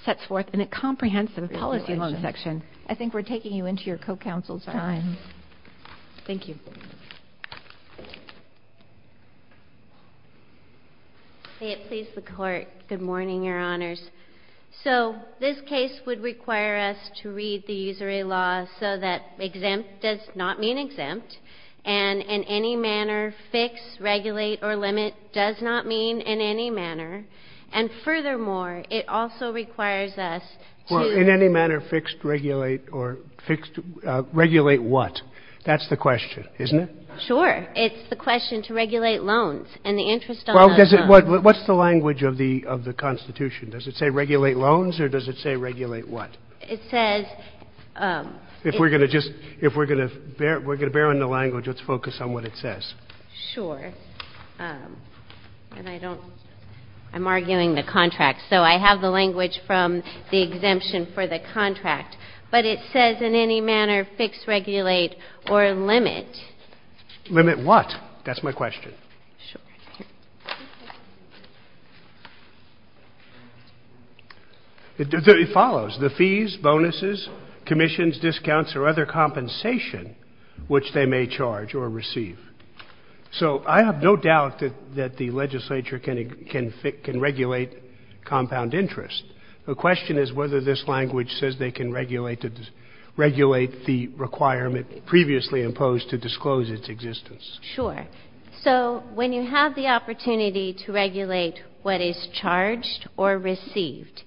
sets forth in a comprehensive policy loan section. I think we're taking you into your co-counsel's time. Thank you. May it please the Court. Good morning, Your Honors. So this case would require us to read the USREA law so that exempt does not mean exempt, and in any manner, fix, regulate, or limit does not mean in any manner, and furthermore, it also requires us to... ...regulate what? That's the question, isn't it? Sure. It's the question to regulate loans and the interest on those loans. What's the language of the Constitution? Does it say regulate loans or does it say regulate what? It says... If we're going to just, if we're going to bear on the language, let's focus on what it says. Sure. And I don't, I'm arguing the contract. So I have the language from the exemption for the contract. But it says in any manner, fix, regulate, or limit. Limit what? That's my question. Sure. It follows. The fees, bonuses, commissions, discounts, or other compensation which they may charge or receive. So I have no doubt that the legislature can regulate compound interest. The question is whether this language says they can regulate the requirement previously imposed to disclose its existence. Sure. So when you have the opportunity to regulate what is charged or received,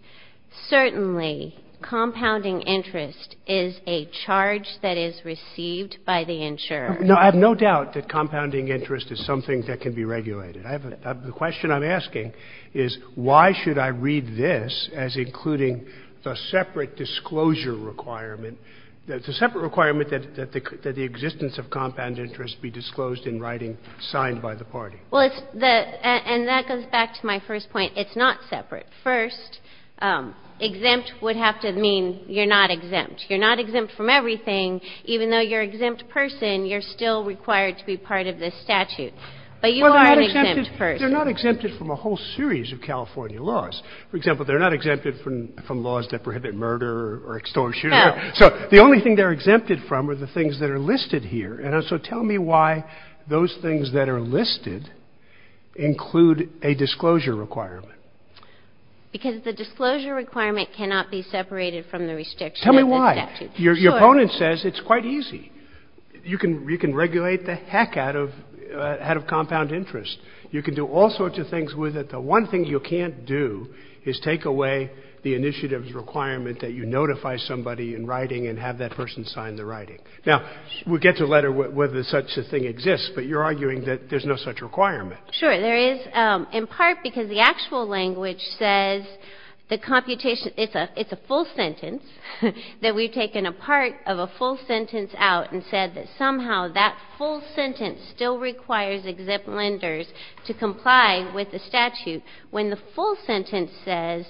certainly compounding interest is a charge that is received by the insurer. No, I have no doubt that compounding interest is something that can be regulated. I have a, the question I'm asking is why should I read this as including the separate disclosure requirement, the separate requirement that the existence of compound interest be disclosed in writing signed by the party? Well, it's the, and that goes back to my first point. It's not separate. First, exempt would have to mean you're not exempt. You're not exempt from everything. Even though you're an exempt person, you're still required to be part of this statute. But you are an exempt person. They're not exempted from a whole series of California laws. For example, they're not exempted from laws that prohibit murder or extortion. So the only thing they're exempted from are the things that are listed here. And so tell me why those things that are listed include a disclosure requirement. Because the disclosure requirement cannot be separated from the restriction. Tell me why. Your opponent says it's quite easy. You can, you can regulate the heck out of, out of compound interest. You can do all sorts of things with it. The one thing you can't do is take away the initiative's requirement that you notify somebody in writing and have that person sign the writing. Now, we'll get to later whether such a thing exists, but you're arguing that there's no such requirement. Sure, there is in part because the actual language says the computation, it's a, it's a full sentence, that we've taken a part of a full sentence out and said that somehow that full sentence still requires exempt lenders to comply with the statute. When the full sentence says,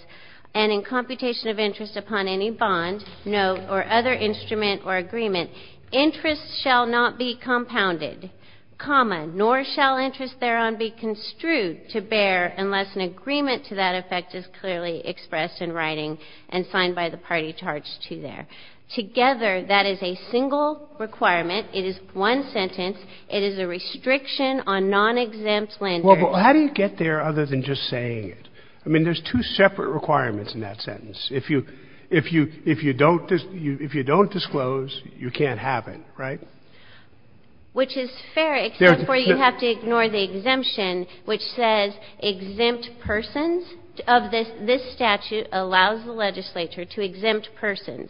and in computation of interest upon any bond, note, or other instrument or agreement, interest shall not be compounded, comma, nor shall interest thereon be construed to bear unless an agreement to that effect is clearly expressed in writing and signed by the party charged to there. Together, that is a single requirement. It is one sentence. It is a restriction on non-exempt lenders. Well, but how do you get there other than just saying it? I mean, there's two separate requirements in that sentence. If you, if you, if you don't, if you don't disclose, you can't have it, right? Which is fair, except for you have to ignore the exemption, which says exempt persons of this, this statute allows the legislature to exempt persons.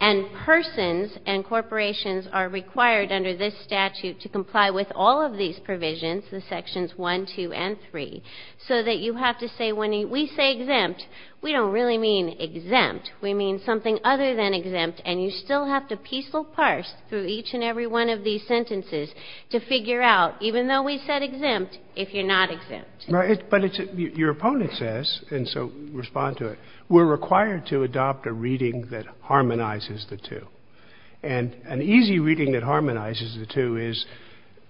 And persons and corporations are required under this statute to comply with all of these provisions, the sections one, two, and three, so that you have to say when we say exempt, we don't really mean exempt, we mean something other than exempt. And you still have to piecemeal parse through each and every one of these sentences to figure out, even though we said exempt, if you're not exempt. Right, but it's, your opponent says, and so respond to it, we're required to adopt a reading that harmonizes the two. And an easy reading that harmonizes the two is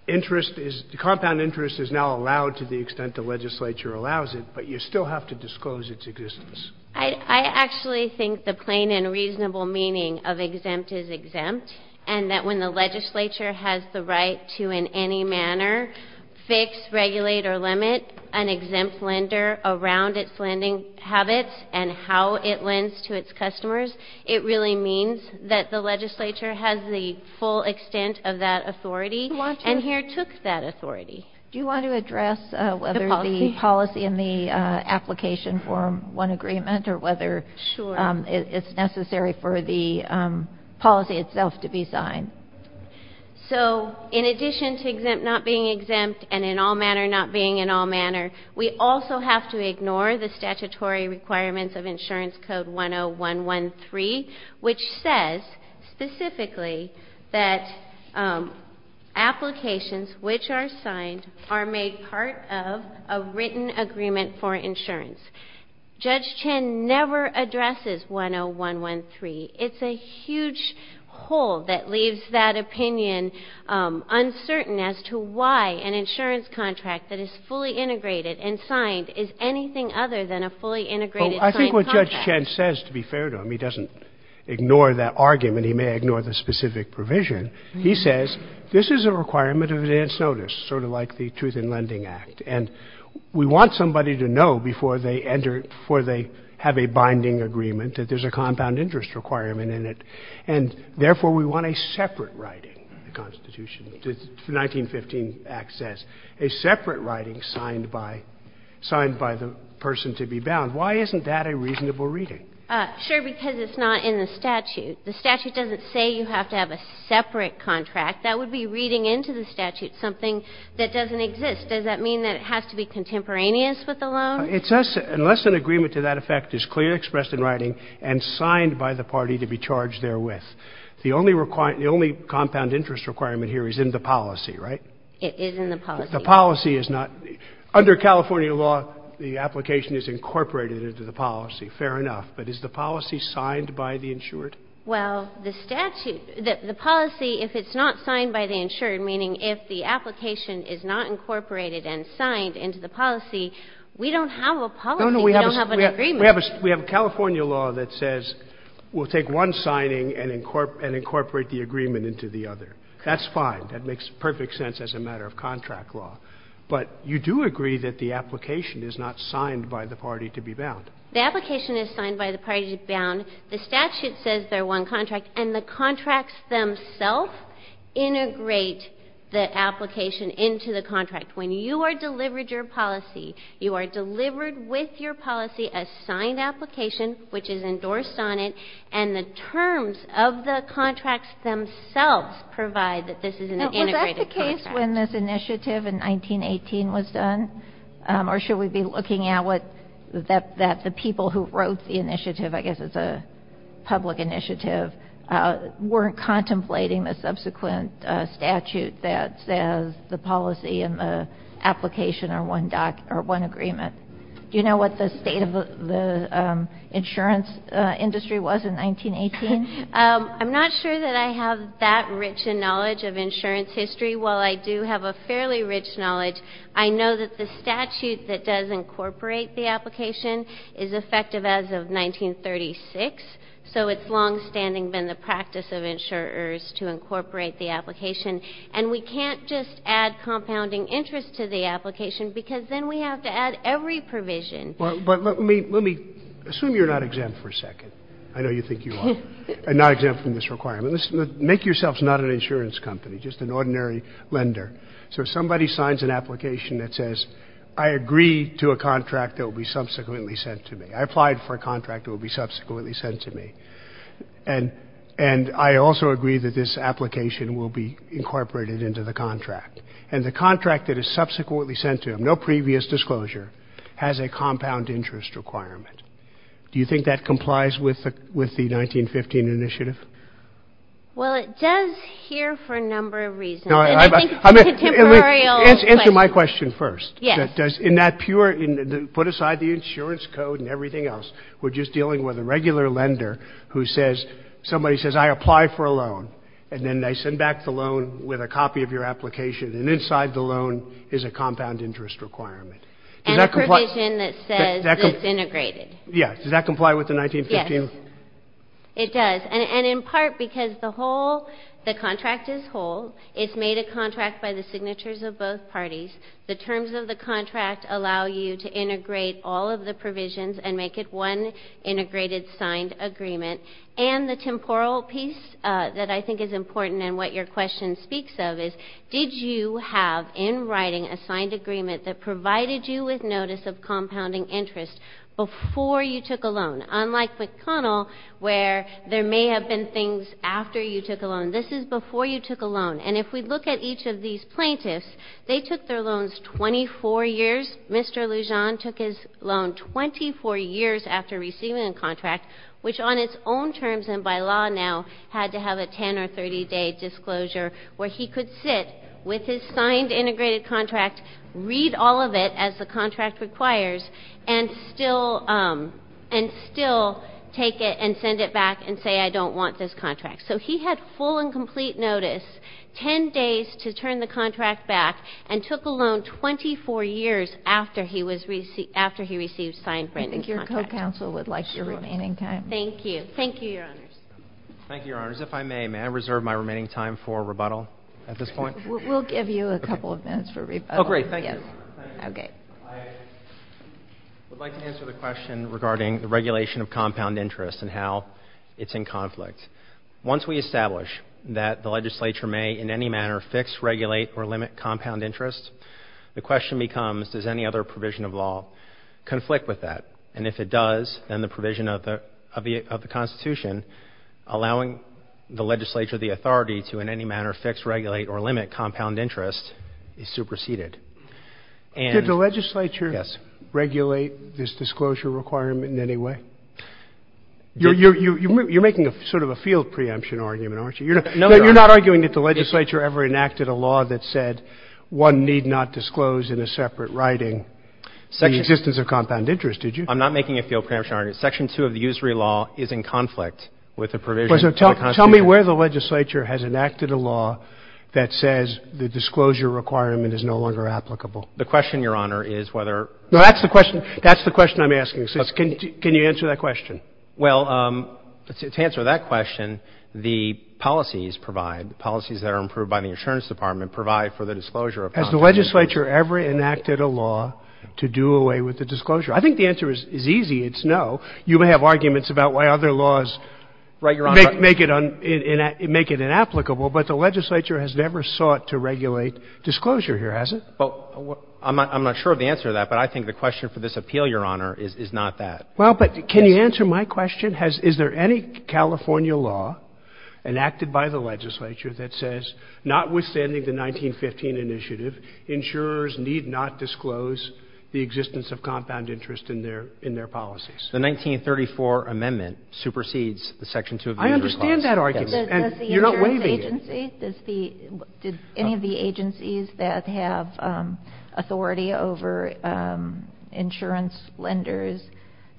interest is, the compound interest is now allowed to the extent the legislature allows it, but you still have to disclose its existence. I, I actually think the plain and reasonable meaning of exempt is exempt. And that when the legislature has the right to in any manner fix, regulate, or limit an exempt lender around its lending habits and how it lends to its customers, it really means that the legislature has the full extent of that authority, and here took that authority. Do you want to address whether the policy and the application form, one agreement, or whether it's necessary for the policy itself to be signed? So, in addition to exempt not being exempt, and in all manner not being in all manner, we also have to ignore the statutory requirements of insurance code 10113, which says, specifically, that applications, which are signed, are made part of a written agreement for insurance. Judge Chin never addresses 10113. It's a huge hole that leaves that opinion uncertain as to why an insurance contract that is fully integrated and signed is anything other than a fully integrated signed contract. I think what Judge Chin says, to be fair to him, he doesn't ignore that argument. He may ignore the specific provision. He says, this is a requirement of advance notice, sort of like the Truth in Lending Act, and we want somebody to know before they enter, before they have a binding agreement, that there's a compound interest requirement in it, and, therefore, we want a separate writing, the Constitution, the 1915 Act says, a separate writing signed by the person to be bound. Why isn't that a reasonable reading? Sure, because it's not in the statute. The statute doesn't say you have to have a separate contract. That would be reading into the statute something that doesn't exist. Does that mean that it has to be contemporaneous with the loan? It says, unless an agreement to that effect is clearly expressed in writing and signed by the party to be charged therewith. The only compound interest requirement here is in the policy, right? It is in the policy. The policy is not. Under California law, the application is incorporated into the policy. Fair enough. But is the policy signed by the insured? Well, the statute, the policy, if it's not signed by the insured, meaning if the You don't have a policy, you don't have an agreement. No, no, we have a California law that says we'll take one signing and incorporate the agreement into the other. That's fine. That makes perfect sense as a matter of contract law. But you do agree that the application is not signed by the party to be bound. The application is signed by the party to be bound. The statute says they're one contract, and the contracts themselves integrate the application into the contract. When you are delivered your policy, you are delivered with your policy a signed application, which is endorsed on it, and the terms of the contracts themselves provide that this is an integrated contract. Now, was that the case when this initiative in 1918 was done? Or should we be looking at what the people who wrote the initiative, I guess it's a public initiative, weren't contemplating the subsequent statute that says the policy and the application are one agreement? Do you know what the state of the insurance industry was in 1918? I'm not sure that I have that rich a knowledge of insurance history. While I do have a fairly rich knowledge, I know that the statute that does incorporate the application is effective as of 1936, so it's longstanding been the practice of insurers to incorporate the application. And we can't just add compounding interest to the application, because then we have to add every provision. But let me assume you're not exempt for a second. I know you think you are. I'm not exempt from this requirement. Make yourselves not an insurance company, just an ordinary lender. So if somebody signs an application that says, I agree to a contract that will be subsequently sent to me, and I also agree that this application will be incorporated into the contract, and the contract that is subsequently sent to them, no previous disclosure, has a compound interest requirement, do you think that complies with the 1915 initiative? Well, it does here for a number of reasons. Answer my question first. Yes. In that pure, put aside the insurance code and everything else, we're just dealing with a regular lender who says, somebody says, I apply for a loan, and then they send back the loan with a copy of your application, and inside the loan is a compound interest requirement. And a provision that says it's integrated. Yeah, does that comply with the 1915? Yes, it does, and in part because the whole, the contract is whole. It's made a contract by the signatures of both parties. The terms of the contract allow you to integrate all of the provisions and make it one integrated signed agreement, and the temporal piece that I think is important and what your question speaks of is, did you have in writing a signed agreement that provided you with notice of compounding interest before you took a loan? Unlike McConnell, where there may have been things after you took a loan, this is before you took a loan. And if we look at each of these plaintiffs, they took their loans 24 years. Mr. Lujan took his loan 24 years after receiving a contract, which on its own terms and by law now had to have a 10 or 30-day disclosure where he could sit with his signed integrated contract, read all of it as the contract requires, and still take it and send it back and say, I don't want this contract. So he had full and complete notice, 10 days to turn the contract back, and took a loan 24 years after he received signed branded contract. I think your co-counsel would like your remaining time. Thank you. Thank you, Your Honors. Thank you, Your Honors. If I may, may I reserve my remaining time for rebuttal at this point? We'll give you a couple of minutes for rebuttal. Oh, great. Thank you. I would like to answer the question regarding the regulation of compound interest and how it's in conflict. Once we establish that the legislature may in any manner fix, regulate, or limit compound interest, the question becomes, does any other provision of law conflict with that? And if it does, then the provision of the Constitution allowing the legislature, the authority to in any manner fix, regulate, or limit compound interest is superseded. Did the legislature regulate this disclosure requirement in any way? You're making sort of a field preemption argument, aren't you? No, Your Honor. I'm arguing that the legislature ever enacted a law that said one need not disclose in a separate writing the existence of compound interest. Did you? I'm not making a field preemption argument. Section 2 of the usury law is in conflict with the provision of the Constitution. Tell me where the legislature has enacted a law that says the disclosure requirement is no longer applicable. The question, Your Honor, is whether — No, that's the question. That's the question I'm asking. Can you answer that question? Well, to answer that question, the policies provide, the policies that are approved by the insurance department provide for the disclosure of compound interest. Has the legislature ever enacted a law to do away with the disclosure? I think the answer is easy. It's no. You may have arguments about why other laws make it inapplicable, but the legislature has never sought to regulate disclosure here, has it? I'm not sure of the answer to that, but I think the question for this appeal, Your Honor, is not that. Well, but can you answer my question? Has — is there any California law enacted by the legislature that says, notwithstanding the 1915 initiative, insurers need not disclose the existence of compound interest in their — in their policies? The 1934 amendment supersedes the Section 2 of the usury law. I understand that argument, and you're not waiving it. Okay. Does the — did any of the agencies that have authority over insurance lenders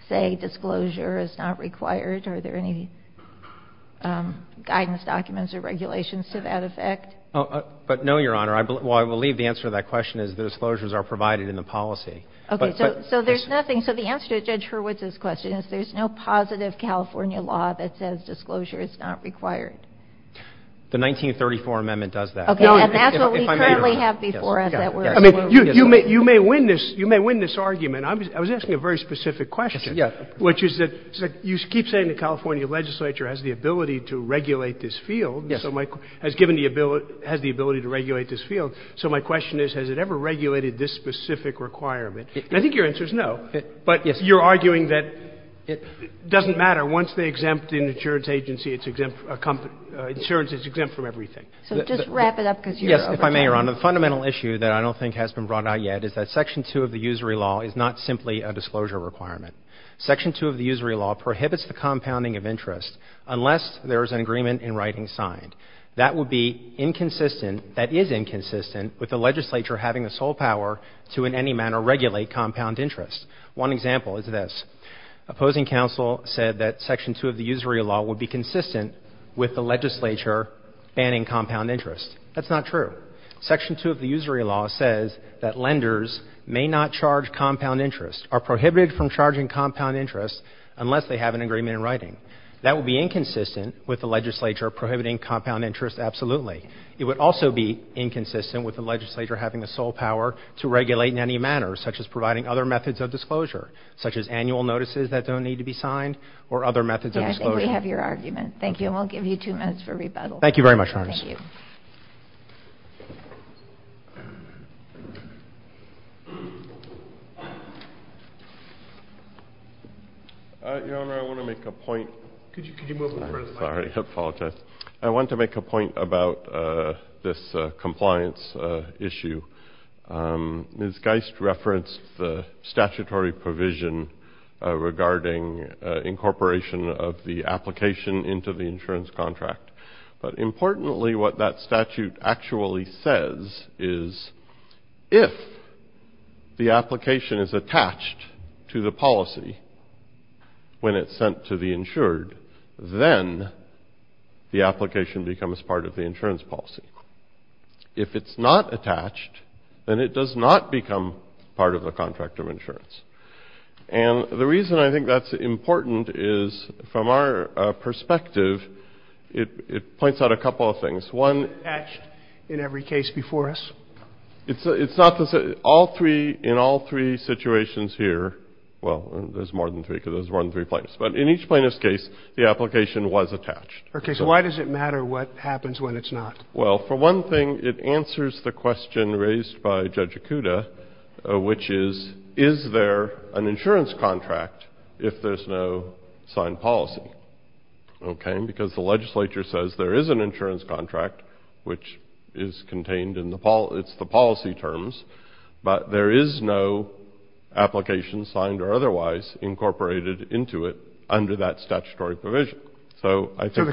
say disclosure is not required? Are there any guidance documents or regulations to that effect? But no, Your Honor. I — well, I believe the answer to that question is the disclosures are provided in the policy. But — Okay. So there's nothing — so the answer to Judge Hurwitz's question is there's no positive California law that says disclosure is not required. The 1934 amendment does that. Okay. And that's what we currently have before us that we're excluding. You may win this — you may win this argument. I was asking a very specific question. Yes. Which is that you keep saying the California legislature has the ability to regulate this field. Yes. So my — has given the ability — has the ability to regulate this field. So my question is, has it ever regulated this specific requirement? And I think your answer is no. But you're arguing that it doesn't matter. Once they exempt an insurance agency, it's exempt — insurance is exempt from everything. So just wrap it up, because you're over time. Yes. If I may, Your Honor, the fundamental issue that I don't think has been brought out yet is that Section 2 of the Usury Law is not simply a disclosure requirement. Section 2 of the Usury Law prohibits the compounding of interest unless there is an agreement in writing signed. That would be inconsistent — that is inconsistent with the legislature having the sole power to in any manner regulate compound interest. One example is this. Opposing counsel said that Section 2 of the Usury Law would be consistent with the legislature banning compound interest. That's not true. Section 2 of the Usury Law says that lenders may not charge compound interest, are prohibited from charging compound interest unless they have an agreement in writing. That would be inconsistent with the legislature prohibiting compound interest absolutely. It would also be inconsistent with the legislature having the sole power to regulate in any manner, such as providing other methods of disclosure, such as annual notices that don't need to be signed or other methods of disclosure. Yes, I think we have your argument. Thank you, and we'll give you two minutes for rebuttal. Thank you very much, Your Honor. Thank you. Your Honor, I want to make a point — could you move in front of the mic, please? I'm sorry. I apologize. I want to make a point about this compliance issue. Ms. Geist referenced the statutory provision regarding incorporation of the application into the insurance contract. But importantly, what that statute actually says is if the application is attached to the policy when it's sent to the insured, then the application becomes part of the insurance policy. If it's not attached, then it does not become part of the contract of insurance. And the reason I think that's important is, from our perspective, it points out a couple of things. One — It's not attached in every case before us? It's not. All three — in all three situations here — well, there's more than three, because there's more than three plaintiffs. But in each plaintiff's case, the application was attached. Okay. So why does it matter what happens when it's not? Well, for one thing, it answers the question raised by Judge Ikuda, which is, is there an insurance contract if there's no signed policy? Okay? Because the legislature says there is an insurance contract, which is contained in the — it's the policy terms. But there is no application signed or otherwise incorporated into it under that statutory provision. So I think that —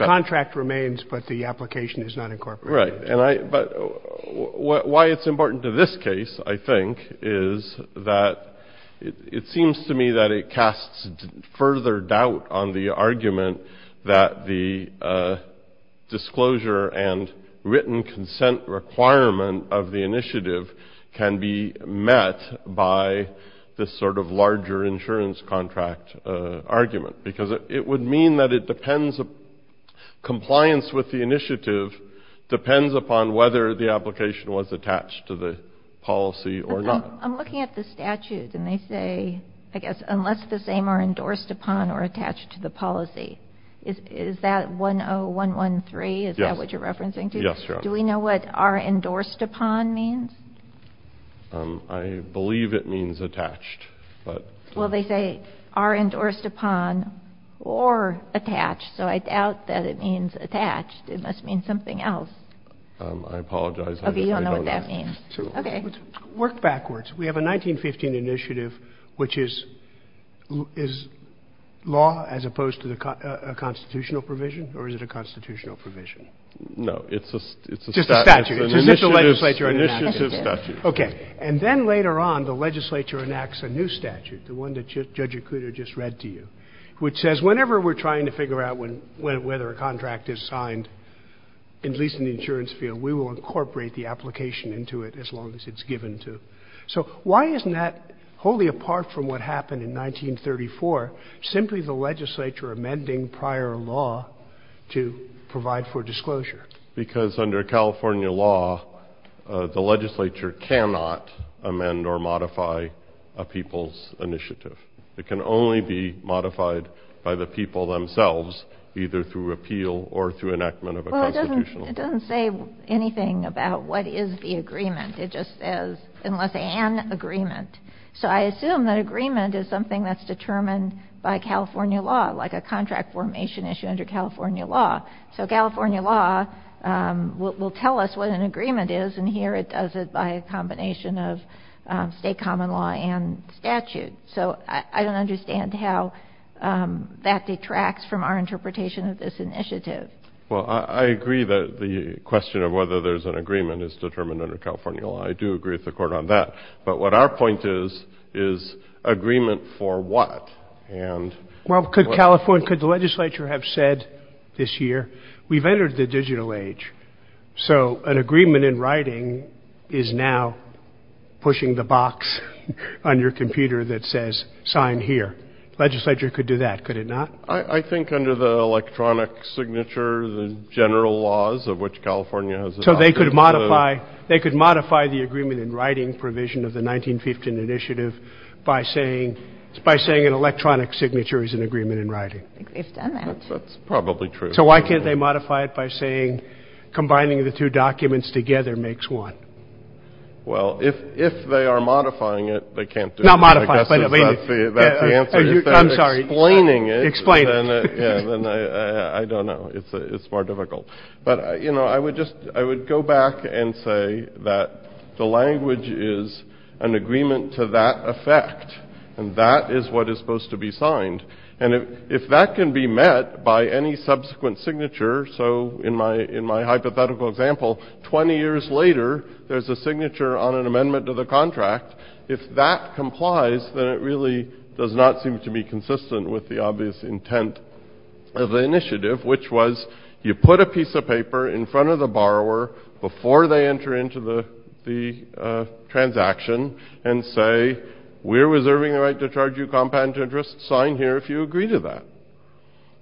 Right. And I — but why it's important to this case, I think, is that it seems to me that it casts further doubt on the argument that the disclosure and written consent requirement of the initiative can be met by this sort of larger insurance contract argument. Because it would mean that it depends — compliance with the initiative depends upon whether the application was attached to the policy or not. I'm looking at the statute, and they say, I guess, unless the same are endorsed upon or attached to the policy. Is that 10113? Yes. Is that what you're referencing to? Yes. Yes, Your Honor. Do we know what are endorsed upon means? I believe it means attached, but — Well, they say are endorsed upon or attached, so I doubt that it means attached. It must mean something else. I apologize. I don't know what that means. Okay. Work backwards. We have a 1915 initiative, which is — is law as opposed to a constitutional provision, or is it a constitutional provision? It's a — It's a statute. It's an initiative statute. It's an initiative statute. Okay. And then later on, the legislature enacts a new statute, the one that Judge Acuda just read to you, which says whenever we're trying to figure out when — whether a contract is signed, at least in the insurance field, we will incorporate the application into it as long as it's given to — so why isn't that, wholly apart from what happened in 1934, simply the legislature amending prior law to provide for disclosure? Because under California law, the legislature cannot amend or modify a people's initiative. It can only be modified by the people themselves, either through appeal or through enactment of a constitutional — Well, it doesn't — it doesn't say anything about what is the agreement. It just says, unless an agreement. So I assume that agreement is something that's determined by California law, like a contract formation issue under California law. So California law will tell us what an agreement is, and here it does it by a combination of state common law and statute. So I don't understand how that detracts from our interpretation of this initiative. Well, I agree that the question of whether there's an agreement is determined under California law. I do agree with the Court on that. But what our point is, is agreement for what? And — Well, could California — could the legislature have said this year, we've entered the digital age, so an agreement in writing is now pushing the box on your computer that says, sign here. Legislature could do that, could it not? I think under the electronic signature, the general laws of which California has adopted — So they could modify — they could modify the agreement in writing provision of the 1915 initiative by saying — by saying an electronic signature is an agreement in writing. I think we've done that. That's probably true. So why can't they modify it by saying, combining the two documents together makes one? Well, if they are modifying it, they can't do it. Not modify it, but — I guess that's the answer. I'm sorry. If they're explaining it — Explain it. Yeah. Then I don't know. It's more difficult. But, you know, I would just — I would go back and say that the language is an agreement to that effect, and that is what is supposed to be signed. And if that can be met by any subsequent signature — so in my hypothetical example, 20 years later, there's a signature on an amendment to the contract — if that complies, then it really does not seem to be consistent with the obvious intent of the initiative, which was, you put a piece of paper in front of the borrower before they enter into the transaction and say, we're reserving the right to charge you compound interest, sign here if you agree to that.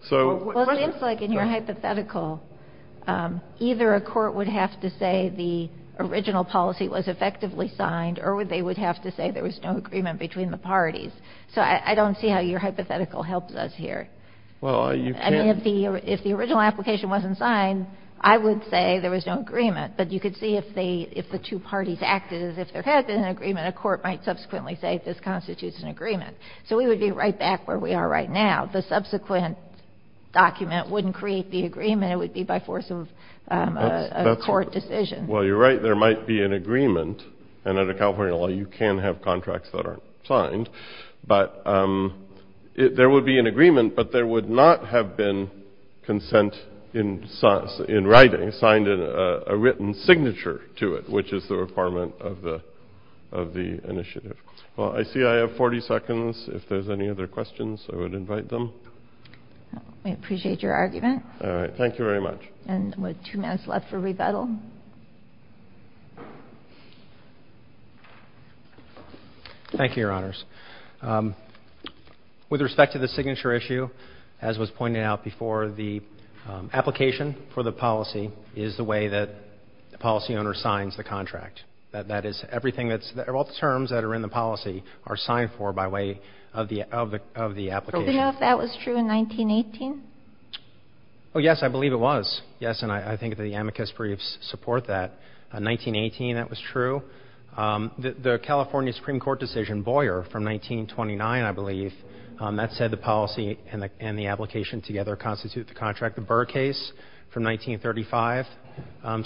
So — Well, it seems like in your hypothetical, either a court would have to say the original policy was effectively signed, or they would have to say there was no agreement between the parties. So I don't see how your hypothetical helps us here. Well, you can't — If the original application wasn't signed, I would say there was no agreement. But you could see if the two parties acted as if there had been an agreement, a court might subsequently say this constitutes an agreement. So we would be right back where we are right now. The subsequent document wouldn't create the agreement, it would be by force of a court decision. Well, you're right. There might be an agreement. And under California law, you can have contracts that aren't signed. But there would be an agreement, but there would not have been consent in writing, signed in a written signature to it, which is the requirement of the initiative. Well, I see I have 40 seconds. If there's any other questions, I would invite them. I appreciate your argument. All right. Thank you very much. And with two minutes left for rebuttal. Thank you, Your Honors. With respect to the signature issue, as was pointed out before, the application for the policy is the way that the policy owner signs the contract. That is everything that's — all the terms that are in the policy are signed for by way of the application. Do we know if that was true in 1918? Oh, yes, I believe it was. Yes. And I think that the amicus briefs support that. In 1918, that was true. The California Supreme Court decision, Boyer, from 1929, I believe, that said the policy and the application together constitute the contract. The Burr case from 1935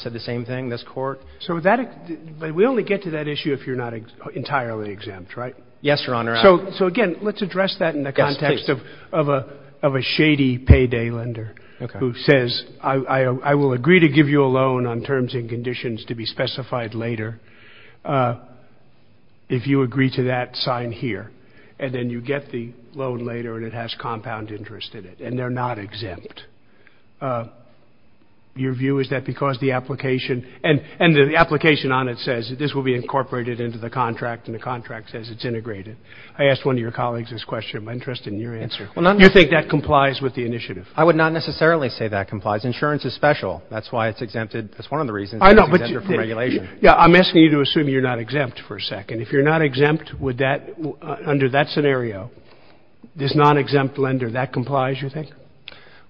said the same thing. This Court — So that — but we only get to that issue if you're not entirely exempt, right? Yes, Your Honor. So, again, let's address that in the context of a shady payday lender who says, I will agree to give you a loan on terms and conditions to be specified later. If you agree to that, sign here. And then you get the loan later, and it has compound interest in it. And they're not exempt. Your view is that because the application — and the application on it says this will be incorporated into the contract, and the contract says it's integrated. I asked one of your colleagues this question. Am I interested in your answer? Well, not necessarily. Do you think that complies with the initiative? I would not necessarily say that complies. Insurance is special. That's why it's exempted. That's one of the reasons it's exempted from regulation. I know, but — Yeah, I'm asking you to assume you're not exempt for a second. If you're not exempt, would that — under that scenario, this non-exempt lender, that complies, you think?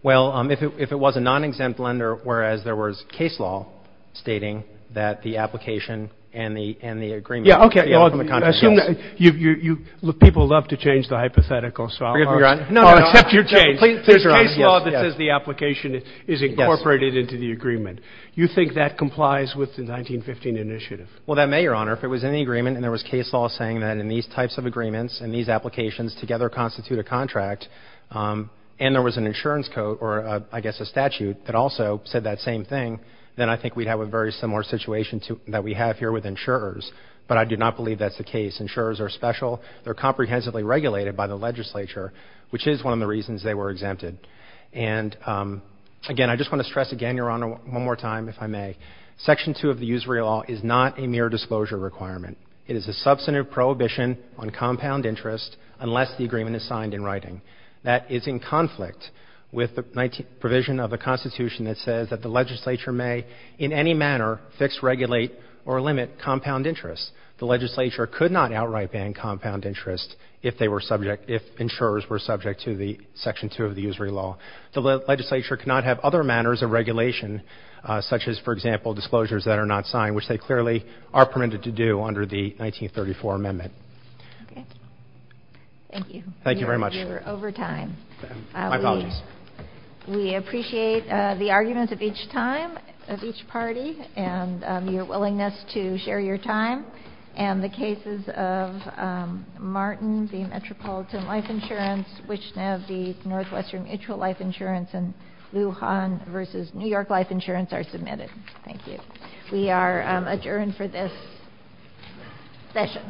Well, if it was a non-exempt lender, whereas there was case law stating that the application and the agreement — Yeah, okay. Well, I assume that you — people love to change the hypothetical, so I'll — Forgive me, Your Honor. No, no, no. I'll accept your change. Please, Your Honor. The case law that says the application is incorporated into the agreement, you think that complies with the 1915 initiative? Well, that may, Your Honor. If it was in the agreement and there was case law saying that in these types of agreements and these applications together constitute a contract, and there was an insurance code or I guess a statute that also said that same thing, then I think we'd have a very similar situation that we have here with insurers. But I do not believe that's the case. Insurers are special. They're comprehensively regulated by the legislature, which is one of the reasons they were exempted. And, again, I just want to stress again, Your Honor, one more time, if I may, Section 2 of the Usury Law is not a mere disclosure requirement. It is a substantive prohibition on compound interest unless the agreement is signed in writing. That is in conflict with the provision of the Constitution that says that the legislature may in any manner fix, regulate, or limit compound interest. The legislature could not outright ban compound interest if they were subject — if insurers were subject to the Section 2 of the Usury Law. The legislature could not have other manners of regulation, such as, for example, disclosures that are not signed, which they clearly are permitted to do under the 1934 amendment. MS. PLETKA Thank you. BOUTROUS Thank you very much. MS. PLETKA You're over time. MR. BOUTROUS My apologies. MS. PLETKA We appreciate the arguments of each time, of each party, and your willingness to share your time. And the cases of Martin v. Metropolitan Life Insurance, Wichita v. Northwestern Mutual Life Insurance, and Lujan v. New York Life Insurance are submitted. Thank you. We are adjourned for this session.